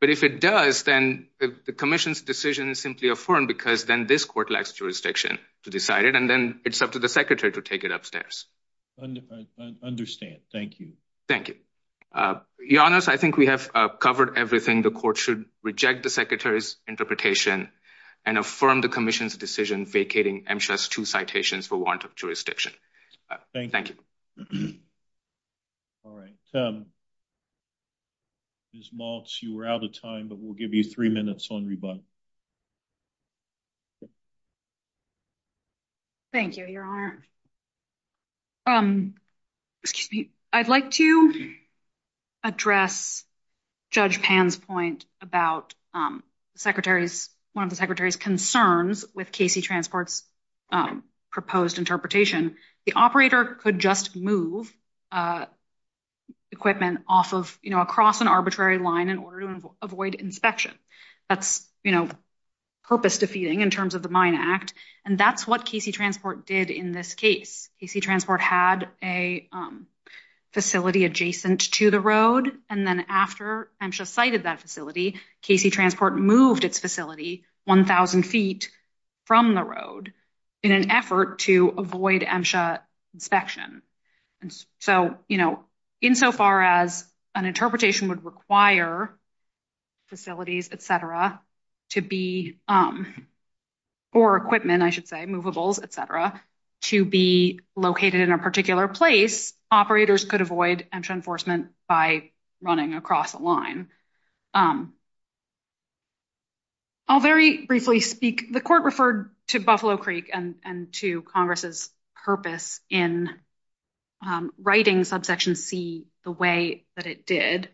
but if it does, then the commission's decision is simply affirmed because then this court lacks jurisdiction to decide it, and then it's up to the secretary to take it upstairs. I understand. Thank you. Thank you. Your Honor, I think we have covered everything. The court should reject the secretary's interpretation and affirm the commission's decision vacating MSHA's two citations for warrant of jurisdiction. Thank you. All right. Ms. Maltz, you were out of time, but we'll give you three minutes on rebuttal. Thank you, Your Honor. I'd like to address Judge Pan's point about one of the secretary's concerns with KC Transport's proposed interpretation. The operator could just move equipment across an arbitrary line in order to avoid inspection. That's purpose-defeating in terms of the Mine Act, and that's what KC Transport did in this case. KC Transport had a facility adjacent to the road, and then after MSHA sighted that facility, KC Transport moved its facility 1,000 feet from the road in an effort to avoid MSHA inspection. So, you know, insofar as an interpretation would require facilities, et cetera, to be—or equipment, I should say, movables, et cetera—to be located in a particular place, operators could avoid MSHA enforcement by running across a line. I'll very briefly speak—the court referred to Buffalo Creek and to Congress's purpose in writing Subsection C the way that it did.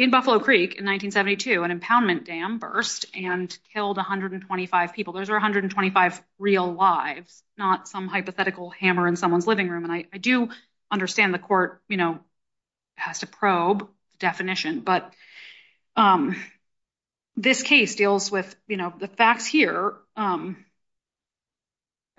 In Buffalo Creek in 1972, an impoundment dam burst and killed 125 people. Those are 125 real lives, not some hypothetical hammer in someone's living room. And I do understand the court has a probe definition, but this case deals with the facts here.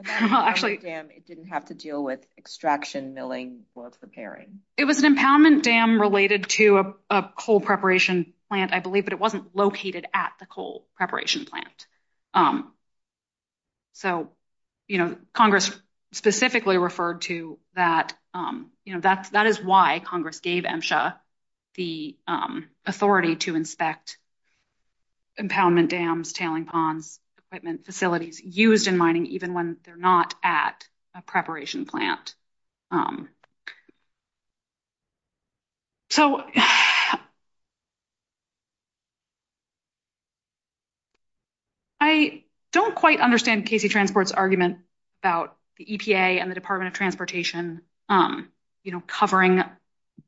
It didn't have to deal with extraction, milling, or repairing. It was an impoundment dam related to a coal preparation plant, I believe, but it wasn't located at the coal preparation plant. So, you know, Congress specifically referred to that—you know, that is why Congress gave MSHA the authority to inspect impoundment dams, tailing ponds, equipment, facilities used in mining, even when they're not at a preparation plant. So, I don't quite understand KC Transport's argument about the EPA and the Department of Transportation, you know, covering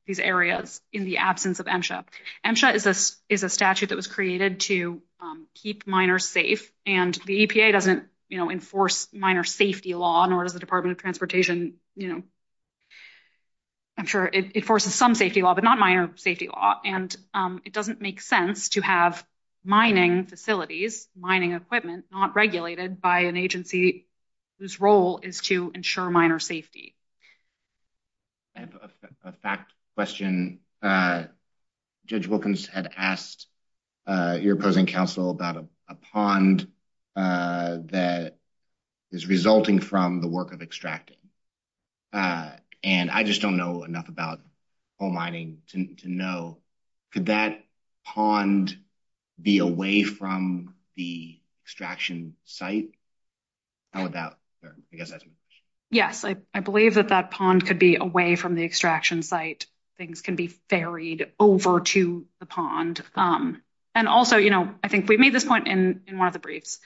these areas in the absence of MSHA. MSHA is a statute that was created to keep miners safe, and the EPA doesn't, you know, enforce miner safety law, nor does the Department of Transportation. I'm sure it enforces some safety law, but not miner safety law, and it doesn't make sense to have mining facilities, mining equipment, not regulated by an agency whose role is to ensure miner safety. I have a fact question. Judge Wilkins had asked your opposing counsel about a pond that is resulting from the work of extracting, and I just don't know enough about coal mining to know, could that pond be away from the extraction site? Yes, I believe that that pond could be away from the extraction site. Things can be ferried over to the pond. And also, you know, I think we've made this point in one of the briefs.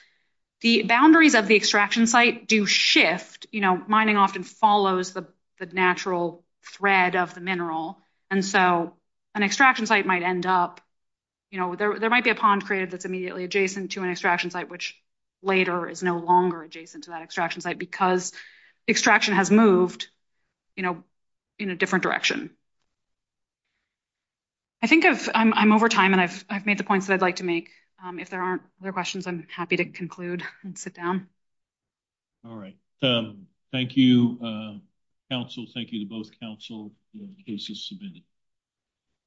The boundaries of the extraction site do shift, you know, mining often follows the natural thread of the mineral, and so an extraction site might end up, you know, there might be a pond created that's immediately adjacent to an extraction site, which later is no longer adjacent to that extraction site, because extraction has moved, you know, in a different direction. I think I'm over time, and I've made the points that I'd like to make. If there aren't other questions, I'm happy to conclude and sit down. All right. Thank you, counsel. Thank you to both counsel and Casey's submitted.